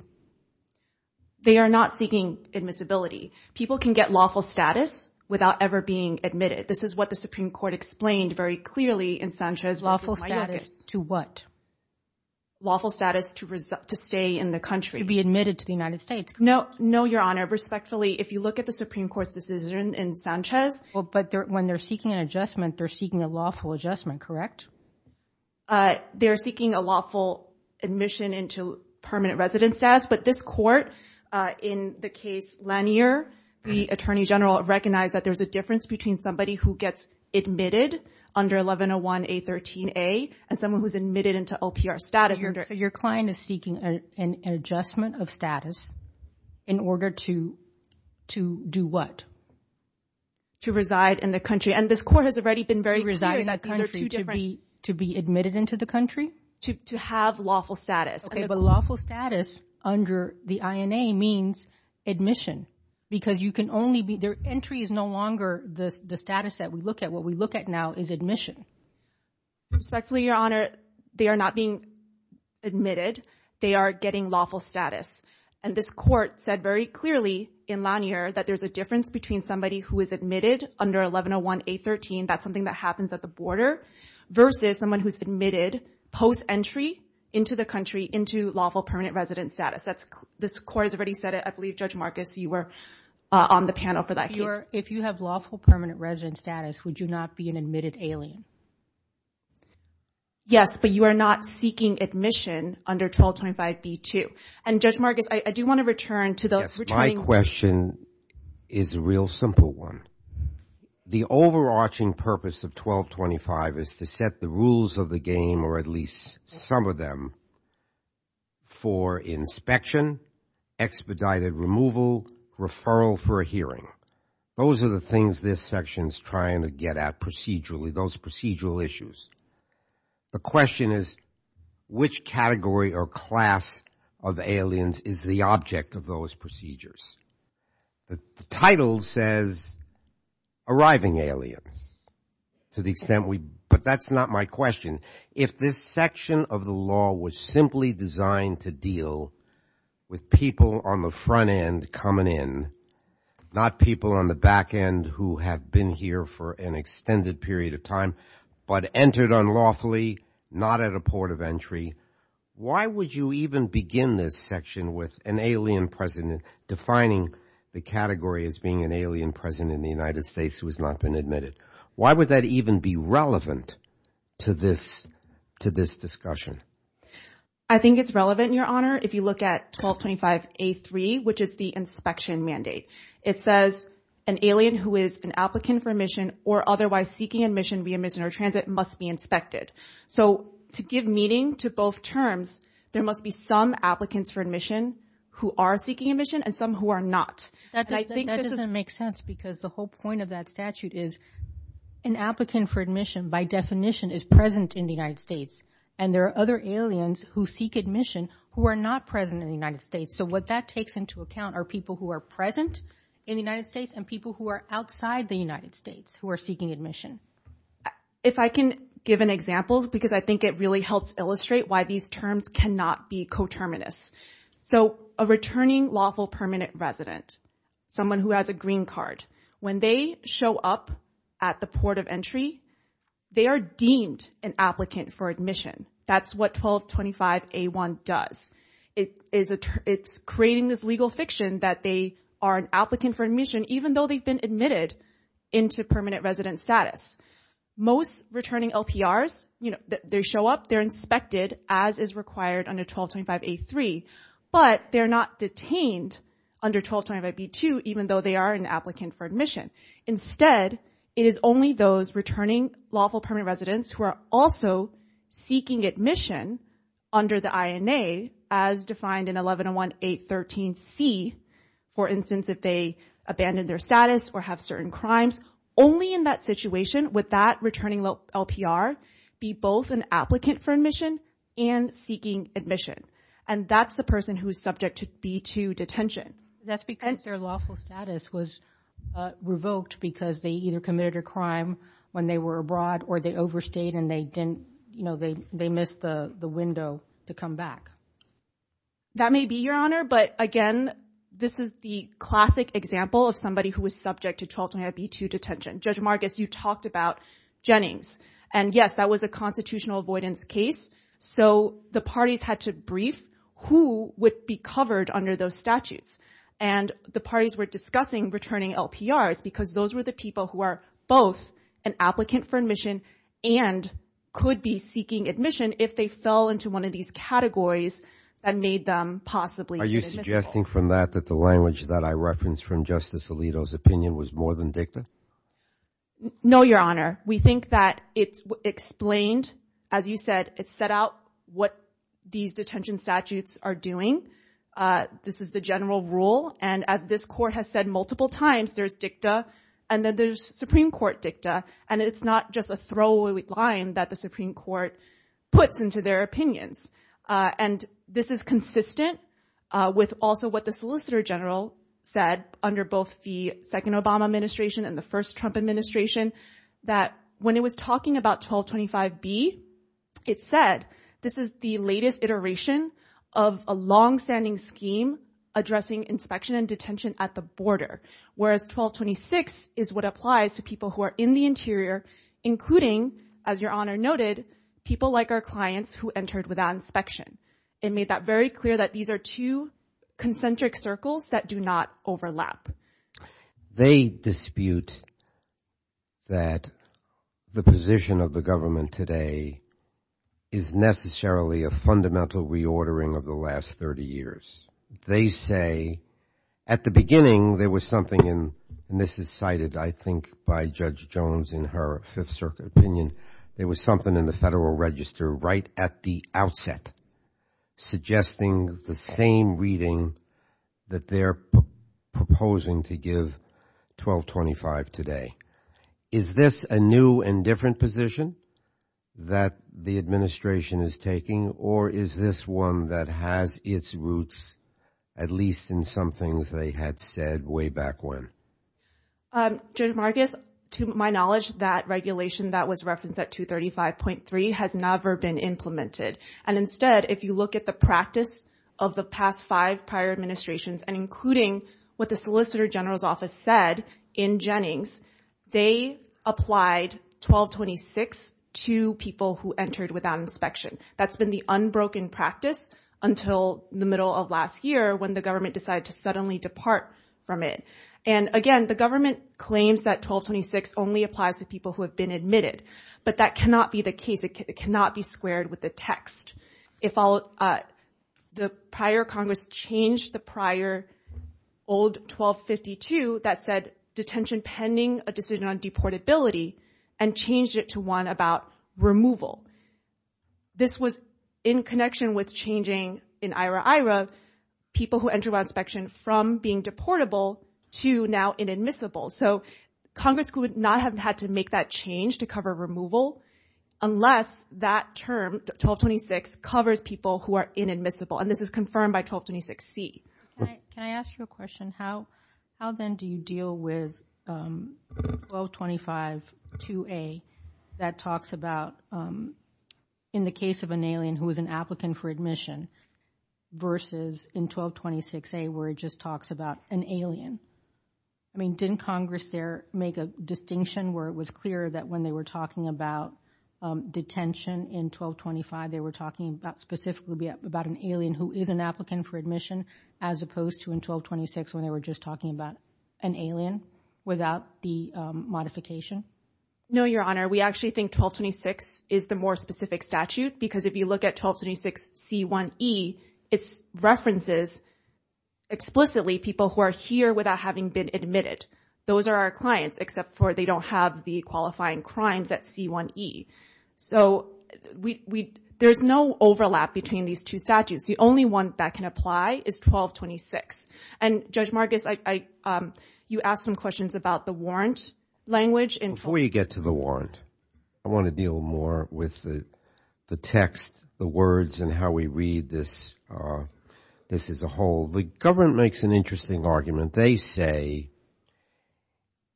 They are not seeking admissibility. People can get lawful status without ever being admitted. This is what the Supreme Court explained very clearly in Sanchez- Lawful status to what? Lawful status to stay in the country. To be admitted to the United States. No, Your Honor. Respectfully, if you look at the Supreme Court's decision in Sanchez- Well, but when they're seeking an adjustment, they're seeking a lawful adjustment, correct? Uh, they're seeking a lawful admission into permanent residence status, but this court, in the case Lanier, the Attorney General recognized that there's a difference between somebody who gets admitted under 1101A13A and someone who's admitted into OPR status- Your client is seeking an adjustment of status in order to- to do what? To reside in the country. And this court has already been very- These are two different- To be admitted into the country? To have lawful status. Okay, but lawful status under the INA means admission, because you can only be- their entry is no longer the status that we look at. What we look at now is admission. Respectfully, Your Honor, they are not being admitted. They are getting lawful status. And this court said very clearly in Lanier that there's a difference between somebody who is admitted under 1101A13, that's something that happens at the border, versus someone who's admitted post-entry into the country into lawful permanent residence status. That's- this court has already said it. I believe, Judge Marcus, you were on the panel for that. If you have lawful permanent residence status, would you not be an admitted alien? Yes, but you are not seeking admission under 1225B2. And Judge Marcus, I do want to return to- My question is a real simple one. The overarching purpose of 1225 is to set the rules of the game, or at least some of them, for inspection, expedited removal, referral for a hearing. Those are the things this section is trying to get at procedurally, those procedural issues. The question is, which category or class of aliens is the object of those procedures? The title says, arriving aliens, to the extent we- but that's not my question. If this section of the law was simply designed to deal with people on the front end coming in, not people on the back end who have been here for an extended period of time, but entered unlawfully, not at a port of entry, why would you even begin this section with an alien president, defining the category as being an alien president in the United States who has not been admitted? Why would that even be relevant to this- to this discussion? I think it's relevant, Your Honor, if you look at 1225A3, which is the inspection mandate. It says, an alien who is an applicant for admission or otherwise seeking admission, re-admission, or transit must be inspected. So, to give meaning to both terms, there must be some applicants for admission who are seeking admission and some who are not. That doesn't make sense because the whole point of that statute is, an applicant for admission, by definition, is present in the United States, and there are other aliens who seek admission who are not present in the United States. So, that takes into account are people who are present in the United States and people who are outside the United States who are seeking admission. If I can give an example, because I think it really helps illustrate why these terms cannot be coterminous. So, a returning lawful permanent resident, someone who has a green card, when they show up at the port of entry, they are deemed an applicant for admission. That's what 1225A1 does. It's creating this legal fiction that they are an applicant for admission even though they've been admitted into permanent resident status. Most returning LPRs, you know, they show up, they're inspected as is required under 1225A3, but they're not detained under 1225A2 even though they are an applicant for admission. Instead, it is only those returning lawful permanent residents who are also seeking admission under the INA as defined in 1101813C, for instance, if they abandon their status or have certain crimes. Only in that situation would that returning LPR be both an applicant for admission and seeking admission, and that's the person who is subject to be to detention. That's because their lawful status was revoked because they either committed a crime when they were abroad or they overstayed and they didn't, you know, they missed the window to come back. That may be, Your Honor, but again, this is the classic example of somebody who was subject to 1225B2 detention. Judge Marcus, you talked about Jennings, and yes, that was a constitutional avoidance case, so the parties had to brief who would be covered under those statutes, and the parties were discussing returning LPRs because those were the people who are both an applicant for admission and could be seeking admission if they fell into one of these categories that made them possibly. Are you suggesting from that that the language that I referenced from Justice Alito's opinion was more than dicta? No, Your Honor. We think that it explained, as you said, it set out what these detention statutes are doing. This is the general rule, and as this Court has said multiple times, there's dicta, and then there's Supreme Court dicta, and it's not just a throwaway line that the Supreme Court puts into their opinions, and this is consistent with also what the Solicitor General said under both the second Obama administration and the first Trump administration, that when it was talking about 1225B, it said this is the latest iteration of a long-standing scheme addressing inspection and detention at the border, whereas 1226 is what applies to people who are in the interior, including, as Your Honor noted, people like our clients who entered without inspection. It made that very clear that these are two concentric circles that do not overlap. They dispute that the position of the government today is necessarily a fundamental reordering of the last 30 years. They say at the beginning there was something, and this is cited, I think, by Judge Jones in her Fifth Circuit opinion, there was something in the Federal Register right at the outset suggesting the same reading that they're proposing to give 1225 today. Is this a new and different position that the administration is taking, or is this one that has its roots at least in some things they had said way back when? Judge Marcus, to my knowledge, that regulation that was referenced at 235.3 has never been implemented. And instead, if you look at the practice of the past five prior administrations, and including what the Solicitor General's Office said in Jennings, they applied 1226 to people who entered without inspection. That's been the unbroken practice until the middle of last year when the government decided to suddenly depart from it. And again, the government claims that 1226 only applies to people who have been admitted, but that cannot be the case. It cannot be squared with the text. The prior Congress changed the prior old 1252 that said detention pending a decision on deportability and changed it to one about removal. This was in connection with changing in IRA-IRA people who entered from being deportable to now inadmissible. So Congress would not have had to make that change to cover removal unless that term, 1226, covers people who are inadmissible. And this is confirmed by 1226C. Can I ask you a question? How then do you deal with 1225-2A that talks about, in the case of an alien who was an applicant for admission versus in 1226-A where it just talks about an alien? I mean, didn't Congress there make a distinction where it was clear that when they were talking about detention in 1225, they were talking specifically about an alien who is an applicant for admission as opposed to in 1226 when they were just talking about an alien without the modification? No, Your Honor. We actually think 1226 is the more specific statute, because if you look at 1226C1E, it references explicitly people who are here without having been admitted. Those are our clients, except for they don't have the qualifying crimes at C1E. So there's no overlap between these two statutes. The only one that can apply is 1226. And Judge Langwood. Before you get to the warrant, I want to deal more with the text, the words, and how we read this as a whole. The government makes an interesting argument. They say,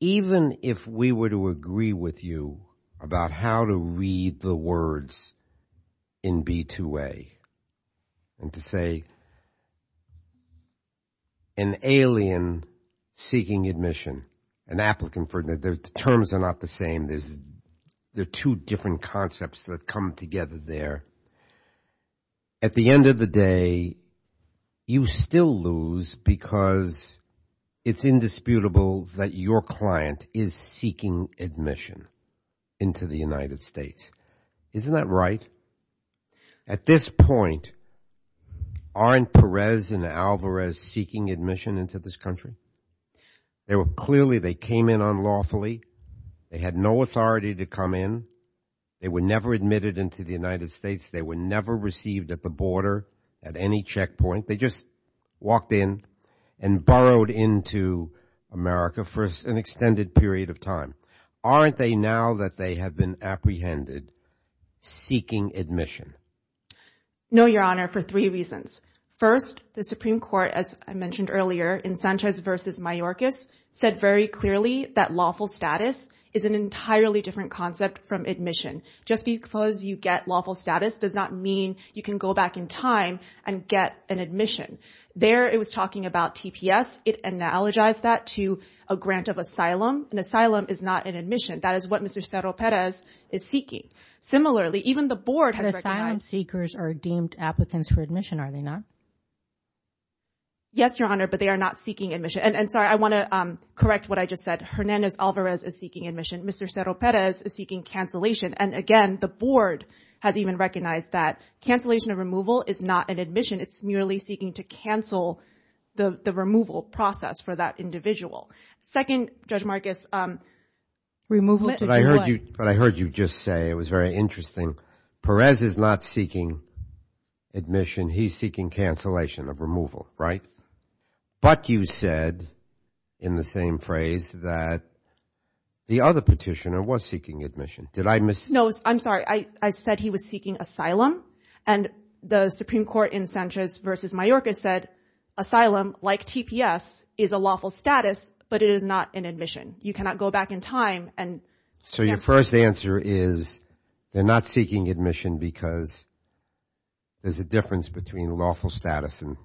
even if we were to agree with you about how to read the words in B-2A and to say that an alien seeking admission, an applicant, the terms are not the same. They're two different concepts that come together there. At the end of the day, you still lose because it's indisputable that your client is seeking admission into the United States. Isn't that right? At this point, aren't Perez and Alvarez seeking admission into this country? They were clearly, they came in unlawfully. They had no authority to come in. They were never admitted into the United States. They were never received at the border at any checkpoint. They just walked in and borrowed into America for an extended period of time. Aren't they now that they have been apprehended seeking admission? No, Your Honor, for three reasons. First, the Supreme Court, as I mentioned earlier, in Sanchez v. Mayorkas, said very clearly that lawful status is an entirely different concept from admission. Just because you get lawful status does not mean you can go back in time and get an admission. There, it was talking about TPS. It analogized that to a grant of asylum. An asylum is not an admission. That is what Mr. Cerro-Perez is seeking. Similarly, even the board has recognized... Asylum seekers are deemed applicants for admission, are they not? Yes, Your Honor, but they are not seeking admission. And so I want to correct what I just said. Hernandez-Alvarez is seeking admission. Mr. Cerro-Perez is seeking cancellation. And again, the board has even recognized that cancellation of removal is not an admission. It's merely seeking to cancel the removal process for that individual. Second, Judge Marcus, removal... What I heard you just say was very interesting. Perez is not seeking admission. He's seeking cancellation of removal, right? But you said in the same phrase that the other petitioner was seeking admission. Did I mis... No, I'm sorry. I said he was seeking asylum. And the Supreme Court in Sanchez v. Mayorkas said asylum, like TPS, is a lawful status, but it is not an admission. You cannot go back in time and... So your first answer is they're not seeking admission because there's a difference between lawful status and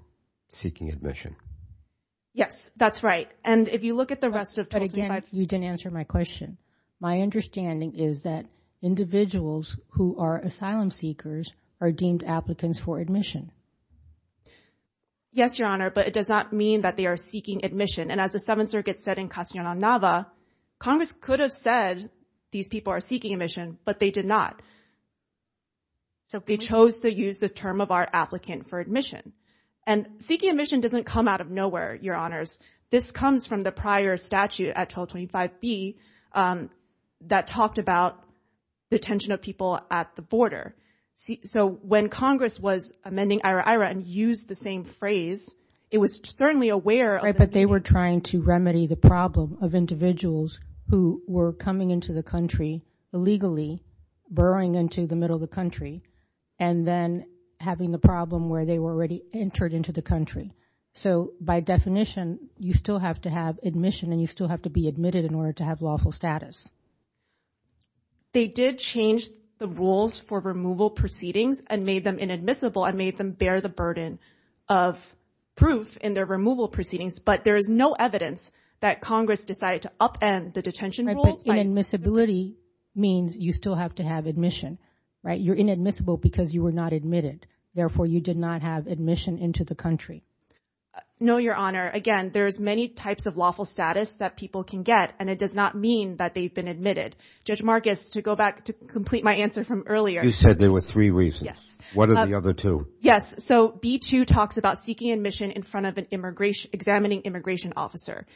seeking admission. Yes, that's right. And if you look at the rest of... But again, you didn't answer my question. My understanding is that individuals who are asylum seekers are deemed applicants for admission. Yes, Your Honor, but it does not mean that they are seeking admission. And as the Seventh Circuit said in Castaneda, Congress could have said these people are seeking admission, but they did not. So they chose to use the term of our applicant for admission. And seeking admission doesn't come out of nowhere, Your Honors. This comes from the prior statute at 1225B that talked about the attention of people at the border. So when Congress was amending IHRA and used the same phrase, it was certainly aware... But they were trying to remedy the problem of individuals who were coming into the country illegally, burrowing into the middle of the country, and then having the problem where they were already entered into the country. So by definition, you still have to have admission, and you still have to be admitted in order to have lawful status. They did change the rules for removal proceedings and made them inadmissible, and made them bear the burden of proof in their removal proceedings. But there is no evidence that Congress decided to upend the detention rules. But inadmissibility means you still have to have admission, right? You're inadmissible because you were not admitted. Therefore, you did not have admission into the country. No, Your Honor. Again, there's many types of lawful status that people can get, and it does not mean that they've been admitted. Judge Marcus, to go back to complete my answer from earlier... You said there were three reasons. What are the other two? Yes. So B-2 talks about seeking admission in front of an immigration... examining immigration officer.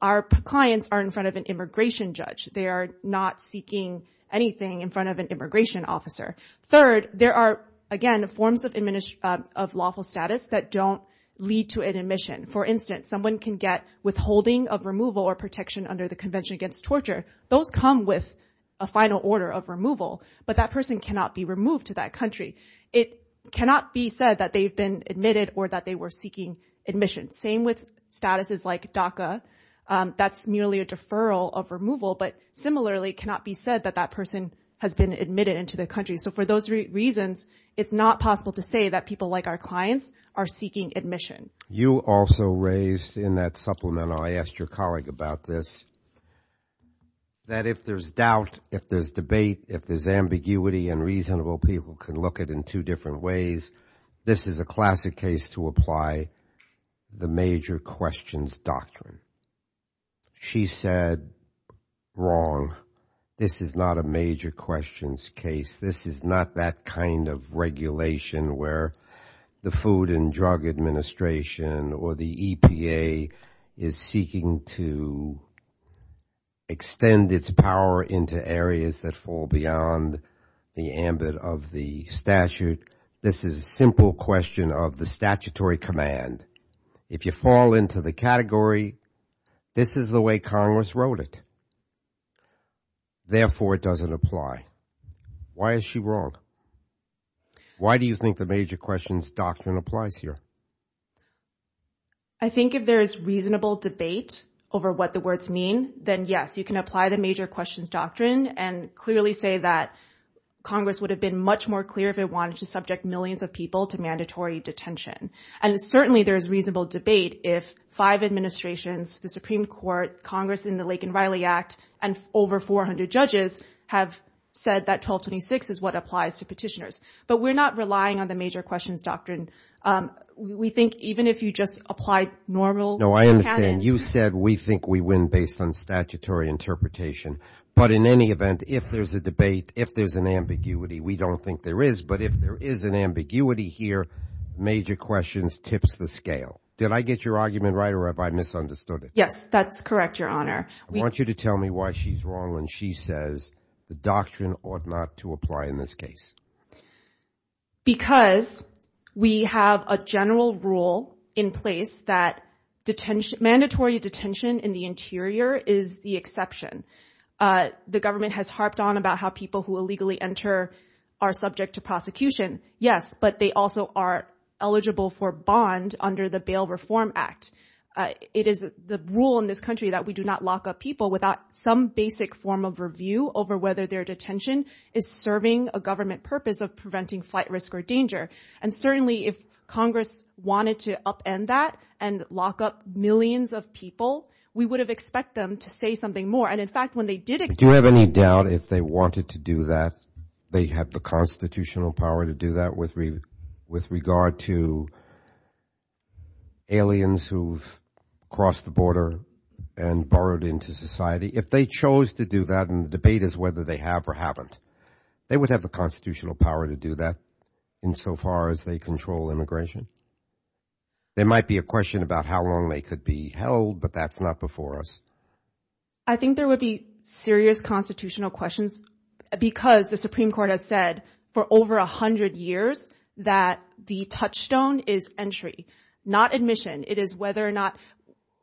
Our clients are in front of an immigration judge. They are not seeking anything in front of an immigration officer. Third, there are, again, forms of lawful status that don't lead to an admission. For instance, someone can get withholding of removal or protection under the Convention Against Torture. They'll come with a final order of removal, but that person cannot be removed to that country. It cannot be said that they've been admitted or that they were seeking admission. Same with statuses like DACA. That's merely a deferral of removal, but similarly cannot be said that that person has been admitted into the country. So for those reasons, it's not possible to say that people like our clients are seeking admission. You also raised in that supplemental, I asked your colleague about this, that if there's doubt, if there's debate, if there's ambiguity and reasonable, people can look at it in two different ways. This is a classic case to apply the major questions doctrine. She said, wrong. This is not a major questions case. This is not that kind of regulation where the Food and Drug Administration or the EPA is seeking to extend its power into areas that fall beyond the ambit of the statute. This is a simple question of the statutory command. If you fall into the category, this is the way Congress wrote it. Therefore, it doesn't apply. Why is she wrong? Why do you think the major questions doctrine applies here? I think if there's reasonable debate over what the words mean, then yes, you can apply the major questions doctrine and clearly say that Congress would have been much more clear if it wanted to subject millions of people to mandatory detention. And certainly there's reasonable debate if five administrations, the Supreme Court, Congress in the Lake and Riley Act and over 400 judges have said that 1226 is what applies to petitioners. But we're not relying on the major questions doctrine. We think even if you just applied normal. No, I am saying you said we think we win based on statutory interpretation. But in any event, if there's a debate, if there's an ambiguity, we don't think there is. But if there is an ambiguity here, major questions tips the scale. Did I get your argument right or have I misunderstood it? Yes, that's correct, Your Honor. We want you to tell me why she's wrong when she says the doctrine ought not to apply in this case because we have a general rule in place that detention mandatory detention in the interior is the exception. The government has harped on about how people who illegally enter are subject to prosecution. Yes, but they also are eligible for bond under the Bail Reform Act. It is the rule in this country that we do not lock up people without some basic form of review over whether their detention is serving a government purpose of preventing flight risk or danger. And certainly if Congress wanted to upend that and lock up millions of people, we would have expect them to say something more. And in fact, when they did it, do you have any doubt if they wanted to do that? They have the constitutional power to do that with regard to. Aliens who've crossed the border and borrowed into society, if they chose to do that in the debate is whether they have or haven't, they would have the constitutional power to do that insofar as they control immigration. There might be a question about how long they could be held, but that's not before us. I think there would be serious constitutional questions because the Supreme Court has said for over a hundred years that the touchstone is entry, not admission. It is whether or not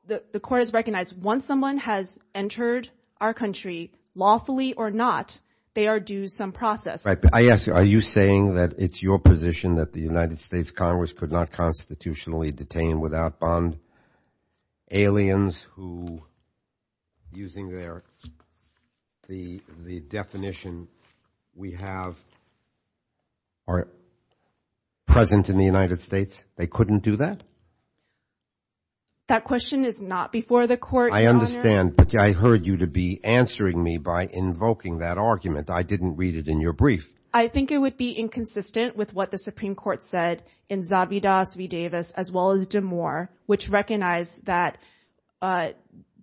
the court has recognized once someone has entered our country lawfully or not, they are due some process. I ask you, are you saying that it's your position that the United States Congress could not constitutionally detain without bond aliens who using their, the definition we have are present in the United States. They couldn't do that. That question is not before the court. I understand, but I heard you to be answering me by invoking that argument. I didn't read it in your brief. I think it would be inconsistent with what the Supreme Court said in Zobby Dallas V. Davis, as well as Jim Moore, which recognized that the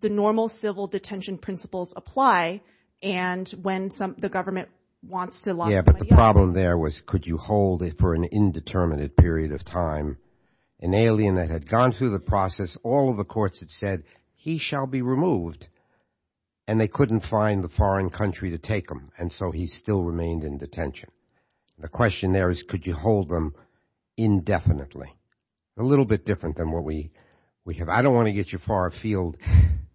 normal civil detention principles apply and when some, the government wants to lock. Yeah, but the problem there was, could you hold it for an indeterminate period of time? An alien that had gone through the process, all the courts had said he shall be removed and they couldn't find the foreign country to take them. And so he still remained in detention. The question there is, could you hold them indefinitely? A little bit different than what we have. I don't want to get you far afield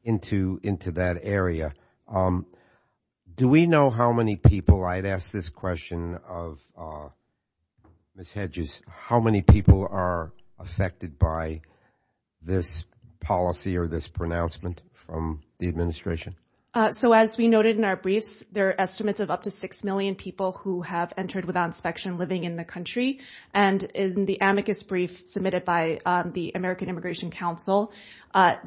into that area. Do we know how many people, I'd ask this question of Ms. Hedges, how many people are affected by this policy or this pronouncement from the administration? So as we noted in our brief, there are estimates of up to 6 million people who have entered without living in the country. And in the amicus brief submitted by the American Immigration Council,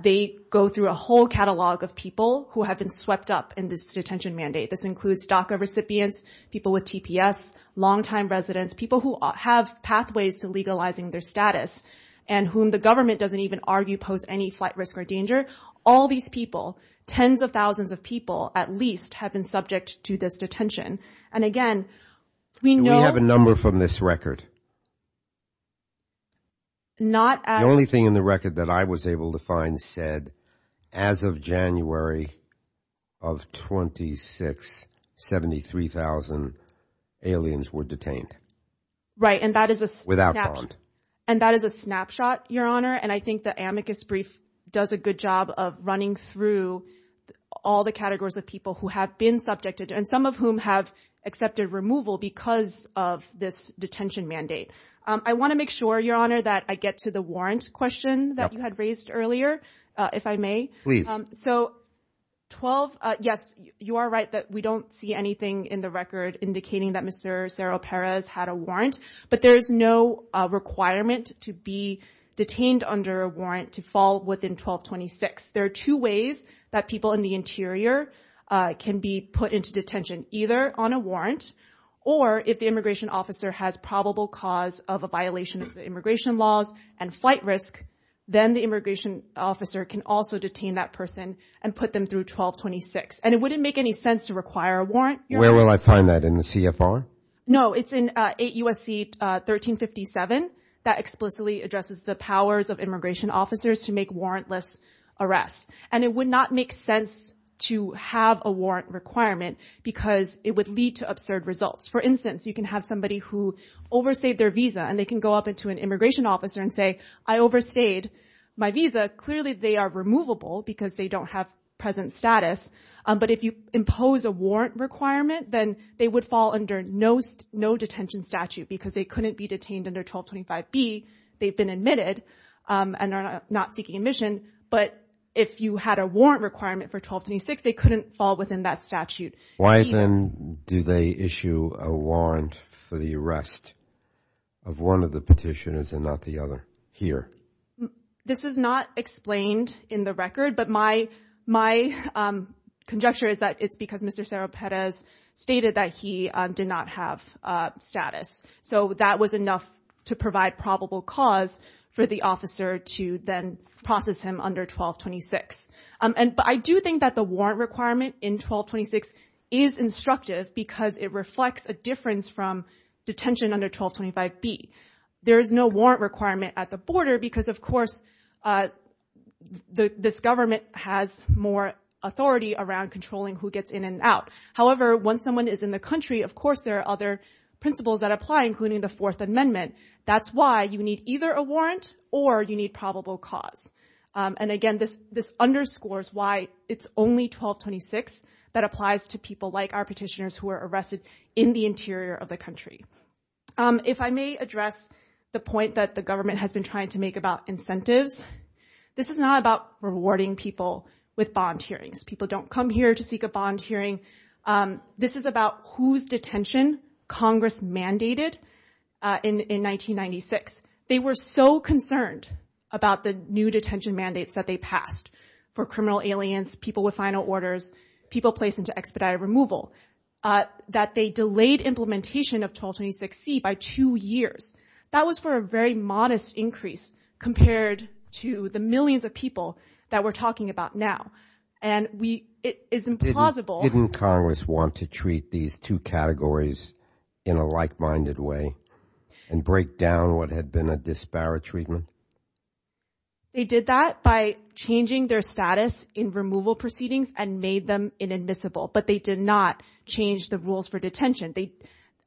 they go through a whole catalog of people who have been swept up in this detention mandate. This includes DACA recipients, people with TPS, long-time residents, people who have pathways to legalizing their status and whom the government doesn't even argue pose any flight risk or danger. All these people, tens of thousands of people at least have been subject to this detention. And again, we know... Do we have a number from this record? Not... The only thing in the record that I was able to find said, as of January of 26, 73,000 aliens were detained. Right. And that is a... Without prompt. And that is a snapshot, Your Honor. And I think the amicus brief does a good job of running through all the categories of people who have been subjected and some of whom have accepted removal because of this detention mandate. I want to make sure, Your Honor, that I get to the warrant question that you had raised earlier, if I may. Please. So 12... Yes, you are right that we don't see anything in the record indicating that Mr. Cerro-Perez had a warrant, but there is no requirement to be detained under a warrant to fall within 1226. There are two ways that people in the interior can be put into detention, either on a warrant or if the immigration officer has probable cause of a violation of immigration laws and flight risk, then the immigration officer can also detain that person and put them through 1226. And it wouldn't make any sense to require a warrant. Where will I find that? In the CFR? No, it's in 8 U.S.C. 1357. That explicitly addresses the powers of immigration officers to make warrantless arrests. And it would not make sense to have a warrant requirement because it would lead to absurd results. For instance, you can have somebody who oversaved their visa, and they can go up into an immigration officer and say, I overstayed my visa. Clearly, they are removable because they don't have present status. But if you impose a warrant requirement, then they would fall under no detention statute because they couldn't be detained under 1225B. They've been admitted and are not seeking admission. But if you had a warrant requirement for 1226, they couldn't fall within that statute. Why then do they issue a warrant for the arrest of one of the petitioners and not the other here? This is not explained in the record, but my my conjecture is that it's because Mr. Cerro-Perez stated that he did not have status. So that was enough to provide probable cause for the officer to then process him under 1226. But I do think that the warrant requirement in 1226 is instructive because it reflects a difference from detention under 1225B. There is no warrant requirement at the border because, of course, this government has more authority around controlling who gets in and out. However, once someone is in the country, of course, there are other principles that apply, including the Fourth Amendment. That's why you need either a warrant or you need probable cause. And again, this underscores why it's only 1226 that applies to people like our petitioners who are arrested in the interior of the country. If I may address the point that the government has tried to make about incentives, this is not about rewarding people with bond hearings. People don't come here to seek a bond hearing. This is about whose detention Congress mandated in 1996. They were so concerned about the new detention mandates that they passed for criminal aliens, people with final orders, people placed into expedited removal, that they delayed implementation of 1226C by two years. That was for a very modest increase compared to the millions of people that we're talking about now. And it's implausible. Didn't Congress want to treat these two categories in a like-minded way and break down what had been a disparate treatment? They did that by changing their status in removal proceedings and made them inadmissible. But they did not change the rules for detention.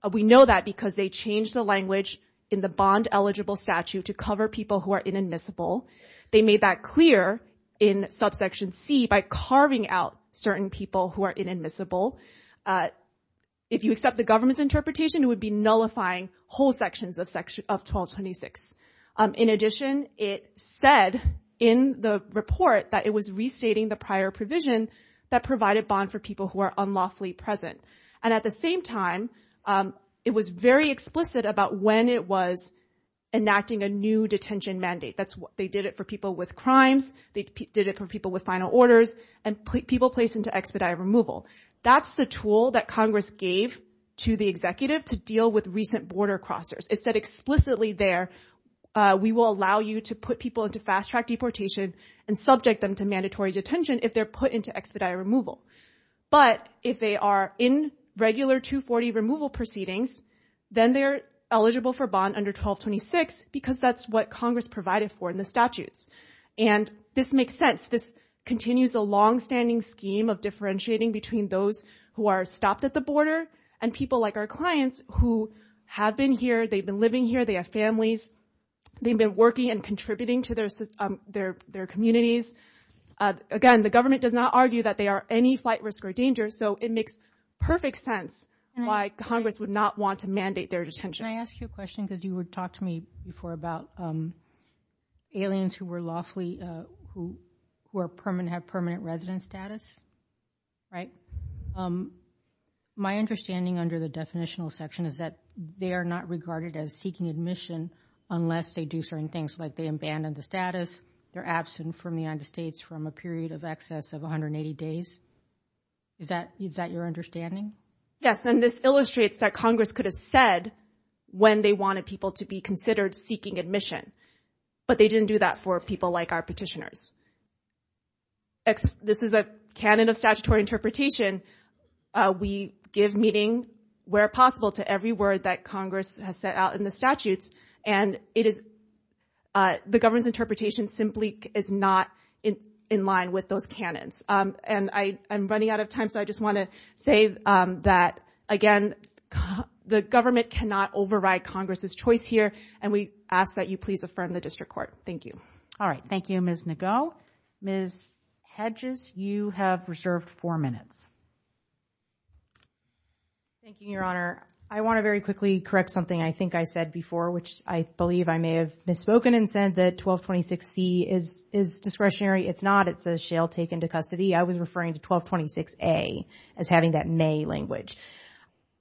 We know that because they changed the language in the bond-eligible statute to cover people who are inadmissible. They made that clear in subsection C by carving out certain people who are inadmissible. If you accept the government's interpretation, it would be nullifying whole sections of 1226. In addition, it said in the report that it was restating the prior provision that provided bond for people who are unlawfully present. And at the same time, it was very explicit about when it was enacting a new detention mandate. They did it for people with crimes. They did it for people with final orders and people placed into expedited removal. That's the tool that Congress gave to the executive to deal with recent border crossers. It said explicitly there, we will allow you to put people into fast-track deportation and subject them to mandatory detention if they're put into expedited removal. But if they are in regular 240 removal proceedings, then they're eligible for bond under 1226 because that's what Congress provided for in the statute. And this makes sense. This continues a long-standing scheme of differentiating between those who are stopped at the border and people like our clients who have been here, they've been living here, they have families, they've been working and contributing to their communities. Again, the government does not argue that they are any flight risk or danger, so it makes perfect sense why Congress would not want to mandate their detention. Can I ask you a question because you would talk to me before about aliens who were lawfully, who have permanent resident status, right? My understanding under the definitional section is that they are not regarded as seeking admission unless they do certain things like they abandon the status, they're absent from the United States from a period of excess of 180 days. Is that your understanding? Yes, and this illustrates that Congress could have said when they wanted people to be considered seeking admission. But they didn't do that for people like our petitioners. This is a canon of statutory interpretation. We give meaning where possible to every word that Congress has set out in the statute. And it is, the government's interpretation simply is not in line with those canons. And I'm running out of time, so I just want to say that, again, the government cannot override Congress's choice here. And we ask that you please affirm the district court. Thank you. All right. Thank you, Ms. Nago. Ms. Hedges, you have reserved four minutes. Thank you, Your Honor. I want to very quickly correct something I think I said before, which I believe I may have misspoken and said that 1226C is discretionary. It's not. It says shale taken to custody. I was referring to 1226A as having that may language.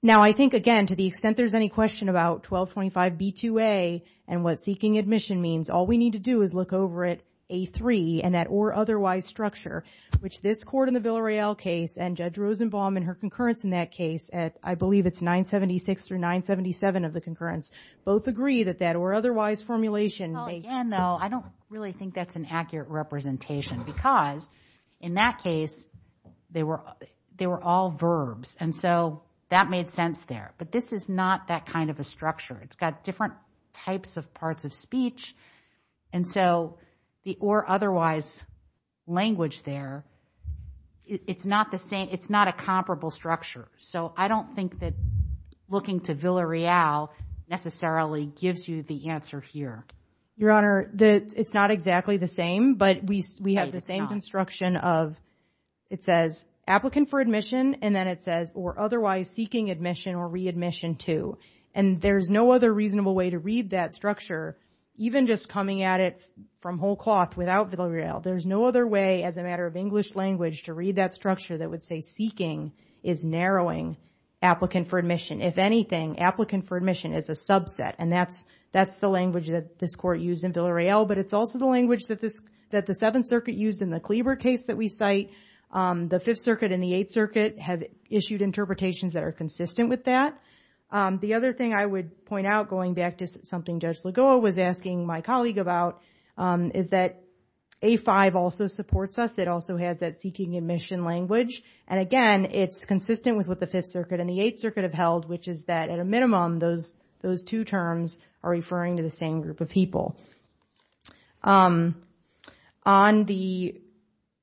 Now, I think, again, to the extent there's any question about 1225B2A and what seeking admission means, all we need to do is look over at A3 and that or otherwise structure, which this court in the Villareal case and Judge Rosenbaum and her concurrence in that case, I believe it's 976 through 977 of the concurrence, both agreed that that or otherwise formulation may. Again, though, I don't really think that's an accurate representation because in that case, they were all verbs. And so that made sense there. But this is not that kind of a structure. It's got types of parts of speech. And so the or otherwise language there, it's not the same. It's not a comparable structure. So I don't think that looking to Villareal necessarily gives you the answer here. Your Honor, it's not exactly the same, but we have the same construction of it says applicant for admission and then it says or otherwise seeking admission or readmission to. And there's no other reasonable way to read that structure, even just coming at it from whole cloth without Villareal. There's no other way as a matter of English language to read that structure that would say seeking is narrowing applicant for admission. If anything, applicant for admission is a subset. And that's the language that this court used in Villareal. But it's also the language that the Seventh Circuit used in the Cleaver case that we cite. The Fifth Circuit and the Eighth Circuit are consistent with that. The other thing I would point out going back to something Judge Lagoa was asking my colleague about is that A5 also supports us. It also has that seeking admission language. And again, it's consistent with what the Fifth Circuit and the Eighth Circuit have held, which is that at a minimum, those two terms are referring to the same group of people. On the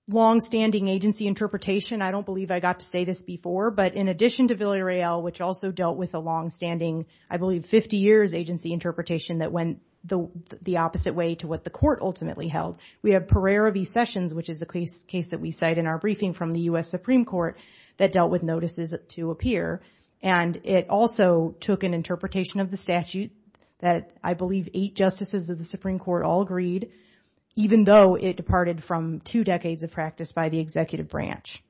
longstanding agency interpretation, I don't believe I got to say this before, but in addition to Villareal, which also dealt with the longstanding, I believe, 50 years agency interpretation that went the opposite way to what the court ultimately held, we have Pereira v. Sessions, which is the case that we cite in our briefing from the U.S. Supreme Court that dealt with notices to appear. And it also took an interpretation of the statute that I believe eight justices of the Supreme Court all agreed, even though it departed from two decades of practice by the executive branch.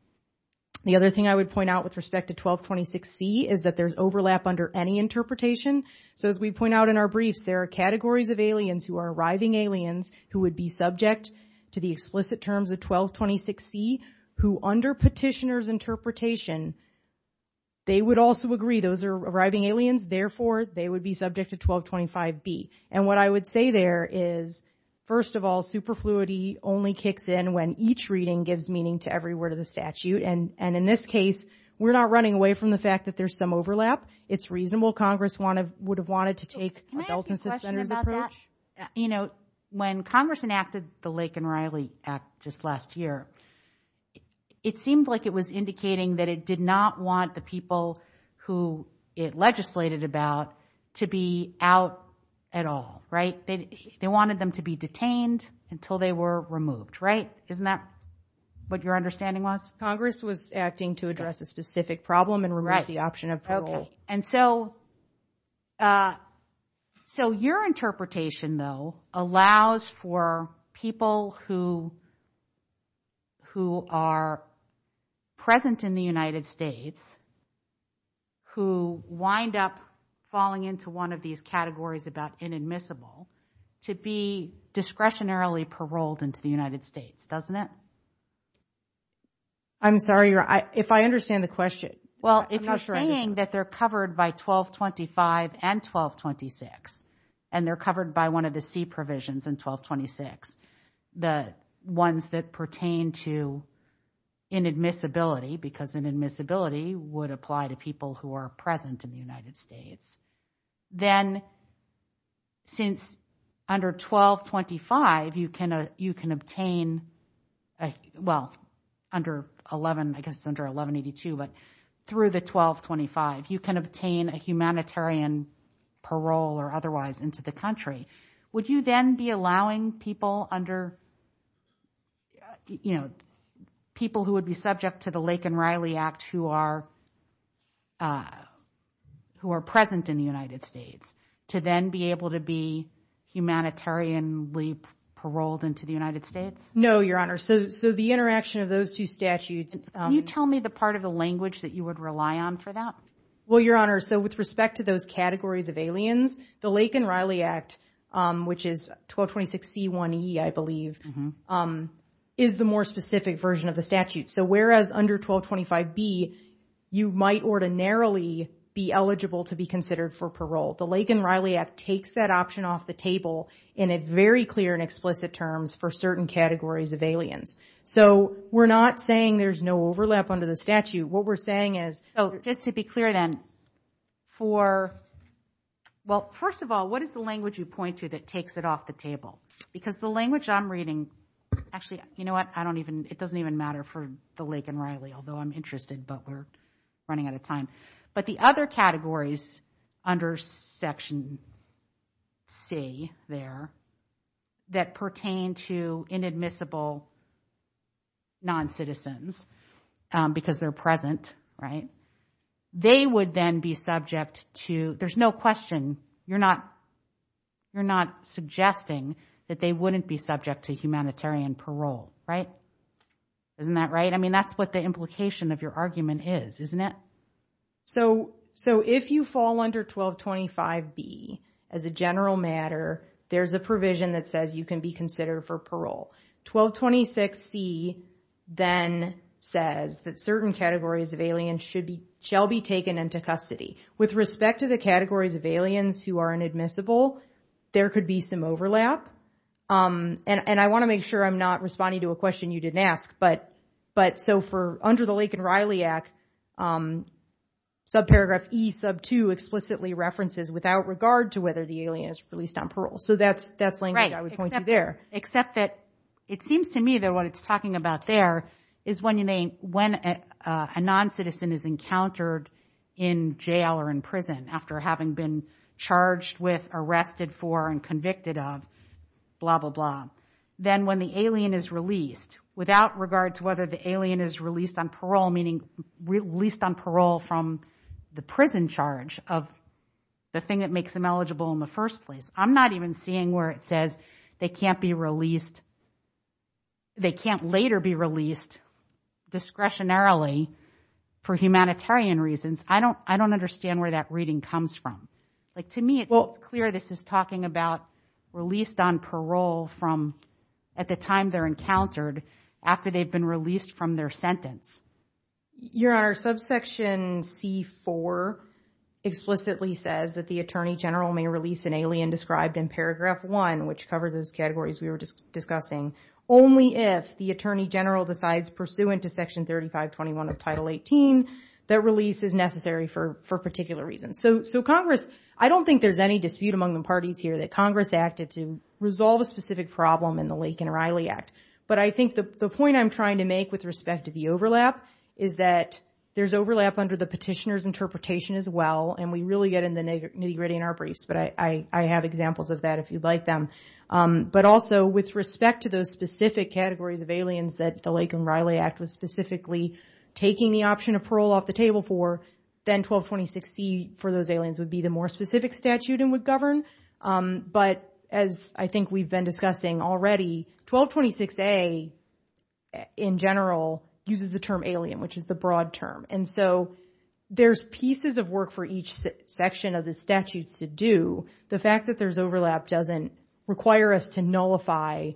The other thing I would point out with respect to 1226C is that there's overlap under any interpretation. So as we point out in our brief, there are categories of aliens who are arriving aliens who would be subject to the explicit terms of 1226C, who under petitioner's interpretation, they would also agree those are arriving aliens. Therefore, they would be subject to 1225B. And what I would say there is, first of all, superfluity only kicks in when each reading gives meaning to every word of the statute. And in this case, we're not running away from the fact that there's some overlap. It's reasonable Congress would have wanted to take a self-incentive approach. You know, when Congress enacted the Lake and Riley Act just last year, it seemed like it was indicating that it did not want the people who it legislated about to be out at all, right? They wanted them to be detained until they were removed, right? Isn't that what your understanding was? Congress was acting to address a specific problem and remove the option of parole. And so your interpretation, though, allows for people who are present in the United States who wind up falling into one of these categories about inadmissible to be discretionarily paroled into the United States, doesn't it? I'm sorry, if I understand the question. Well, if you're saying that they're covered by 1225 and 1226, and they're covered by one of the 1226, the ones that pertain to inadmissibility, because inadmissibility would apply to people who are present in the United States, then since under 1225, you can obtain, well, under 11, I guess under 1182, but through the 1225, you can obtain a humanitarian parole or otherwise into the country. Would you then be allowing people under, you know, people who would be subject to the Lake and Riley Act who are present in the United States to then be able to be humanitarianly paroled into the United States? No, Your Honor. So the interaction of those two statutes... Can you tell me the part of the language that you would rely on for that? Well, Your Honor, so with respect to those categories of aliens, the Lake and Riley Act, which is 1226C1E, I believe, is the more specific version of the statute. So whereas under 1225B, you might ordinarily be eligible to be considered for parole. The Lake and Riley Act takes that option off the table in a very clear and explicit terms for certain categories of aliens. So we're not saying there's no overlap under the statute. What we're saying is... Oh, just to be clear then, for... Well, first of all, what is the language you point to that takes it off the table? Because the language I'm reading... Actually, you know what? I don't even... It doesn't even matter for the Lake and Riley, although I'm interested, but we're running out of time. But the other categories under section C there that pertain to inadmissible non-citizens, because they're present, right? They would then be subject to... There's no question. You're not suggesting that they wouldn't be subject to humanitarian parole, right? Isn't that right? I mean, that's what implication of your argument is, isn't it? So if you fall under 1225B as a general matter, there's a provision that says you can be considered for parole. 1226C then says that certain categories of aliens shall be taken into custody. With respect to the categories of aliens who are inadmissible, there could be some overlap. And I want to make sure I'm not responding to a under the Lake and Riley Act, subparagraph E sub two explicitly references without regard to whether the alien is released on parole. So that's language I was pointing to there. Except that it seems to me that what it's talking about there is when a non-citizen is encountered in jail or in prison after having been charged with, arrested for, and convicted of, blah, blah, blah. Then when the alien is released without regard to whether the alien is released on parole, meaning released on parole from the prison charge of the thing that makes them eligible in the first place. I'm not even seeing where it says they can't be released. They can't later be released discretionarily for humanitarian reasons. I don't understand where that reading comes from. To me, it's clear this is talking about released on parole from at the time they're encountered after they've been released from their sentence. Your Honor, subsection C4 explicitly says that the attorney general may release an alien described in paragraph one, which covers those categories we were just discussing, only if the attorney general is a non-citizen. I don't think there's any dispute among the parties here that Congress acted to resolve a specific problem in the Lake and Riley Act. But I think the point I'm trying to make with respect to the overlap is that there's overlap under the petitioner's interpretation as well. And we really get into the nitty-gritty in our briefs, but I have examples of that if you'd like them. But also with respect to those specific categories of aliens that the Lake and Riley Act is specifically taking the option of parole off the table for, then 1226E for those aliens would be the more specific statute and would govern. But as I think we've been discussing already, 1226A in general uses the term alien, which is the broad term. And so there's pieces of work for each section of the statute to do. The fact that there's overlap doesn't require us to nullify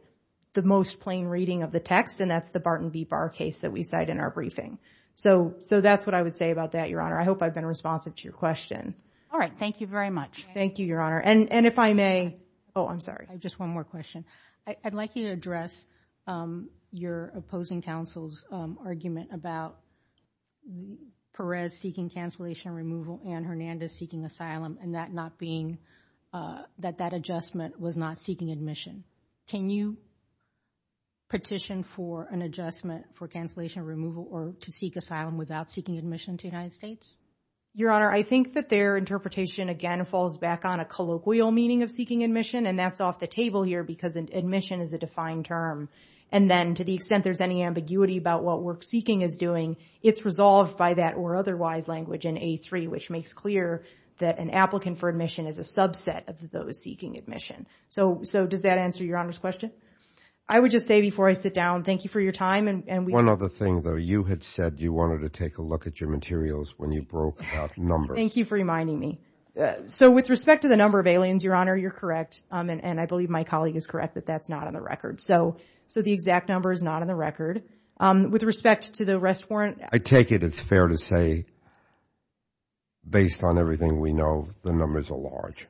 the most plain reading of the text, and that's the Barton v. Barr case that we said in our briefing. So that's what I would say about that, Your Honor. I hope I've been responsive to your question. All right. Thank you very much. Thank you, Your Honor. And if I may, oh, I'm sorry. Just one more question. I'd like you to address your opposing counsel's argument about Perez seeking cancellation removal and Hernandez seeking asylum and that not being, that that adjustment was not seeking admission. Can you petition for an adjustment for cancellation removal or to seek asylum without seeking admission to the United States? Your Honor, I think that their interpretation again falls back on a colloquial meaning of seeking admission, and that's off the table here because admission is a defined term. And then to the extent there's any ambiguity about what work seeking is doing, it's resolved by that or otherwise language in A3, which makes clear that an applicant for admission is a subset of those seeking admission. So does that answer Your Honor's question? I would just say before I sit down, thank you for your time. And one other thing, though, you had said you wanted to take a look at your materials when you broke up numbers. Thank you for reminding me. So with respect to the number of aliens, Your Honor, you're correct. And I believe my colleague is correct that that's not on the record. So the exact number is not on the record. With respect to the arrest warrant. I take it it's fair to say, based on everything we know, the numbers are large.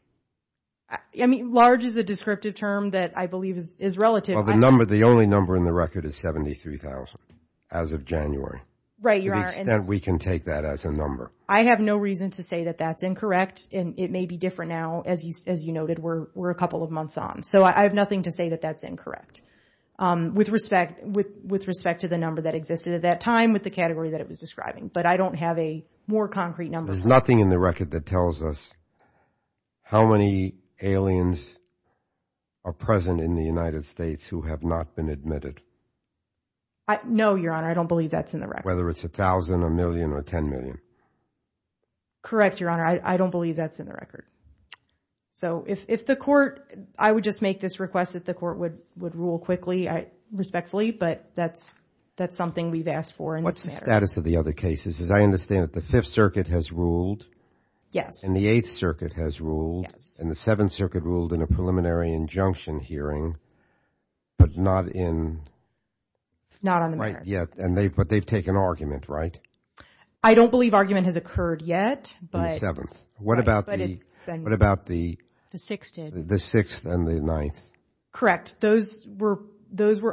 I mean, large is a descriptive term that I believe is relative. Well, the number, the only number in the record is 73,000 as of January. Right, Your Honor. To the extent we can take that as a number. I have no reason to say that that's incorrect. And it may be different now, as you noted, we're a couple of months on. So I have nothing to say that that's incorrect. With respect to the number that existed at that time with the category that it was describing. But I don't have a more concrete number. There's nothing in the record that tells us how many aliens are present in the United States who have not been admitted. No, Your Honor, I don't believe that's in the record. Whether it's a thousand, a million, or 10 million. Correct, Your Honor. I don't believe that's in the record. So if the court, I would just make this request that the court would rule quickly, respectfully, but that's something we've asked for. What's the status of the other cases? As I understand it, the Fifth Circuit has ruled. Yes. And the Eighth Circuit has ruled. And the Seventh Circuit ruled in a preliminary injunction hearing, but not in. Not on the matter. Yet, but they've taken argument, right? I don't believe argument has occurred yet. What about the Sixth and the Ninth? Correct. Those were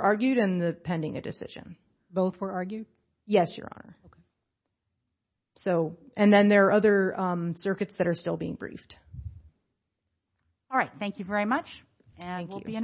argued and pending a decision. Both were argued? Yes, Your Honor. So, and then there are other circuits that are still being briefed. All right. Thank you very much. And we'll be in adjournment.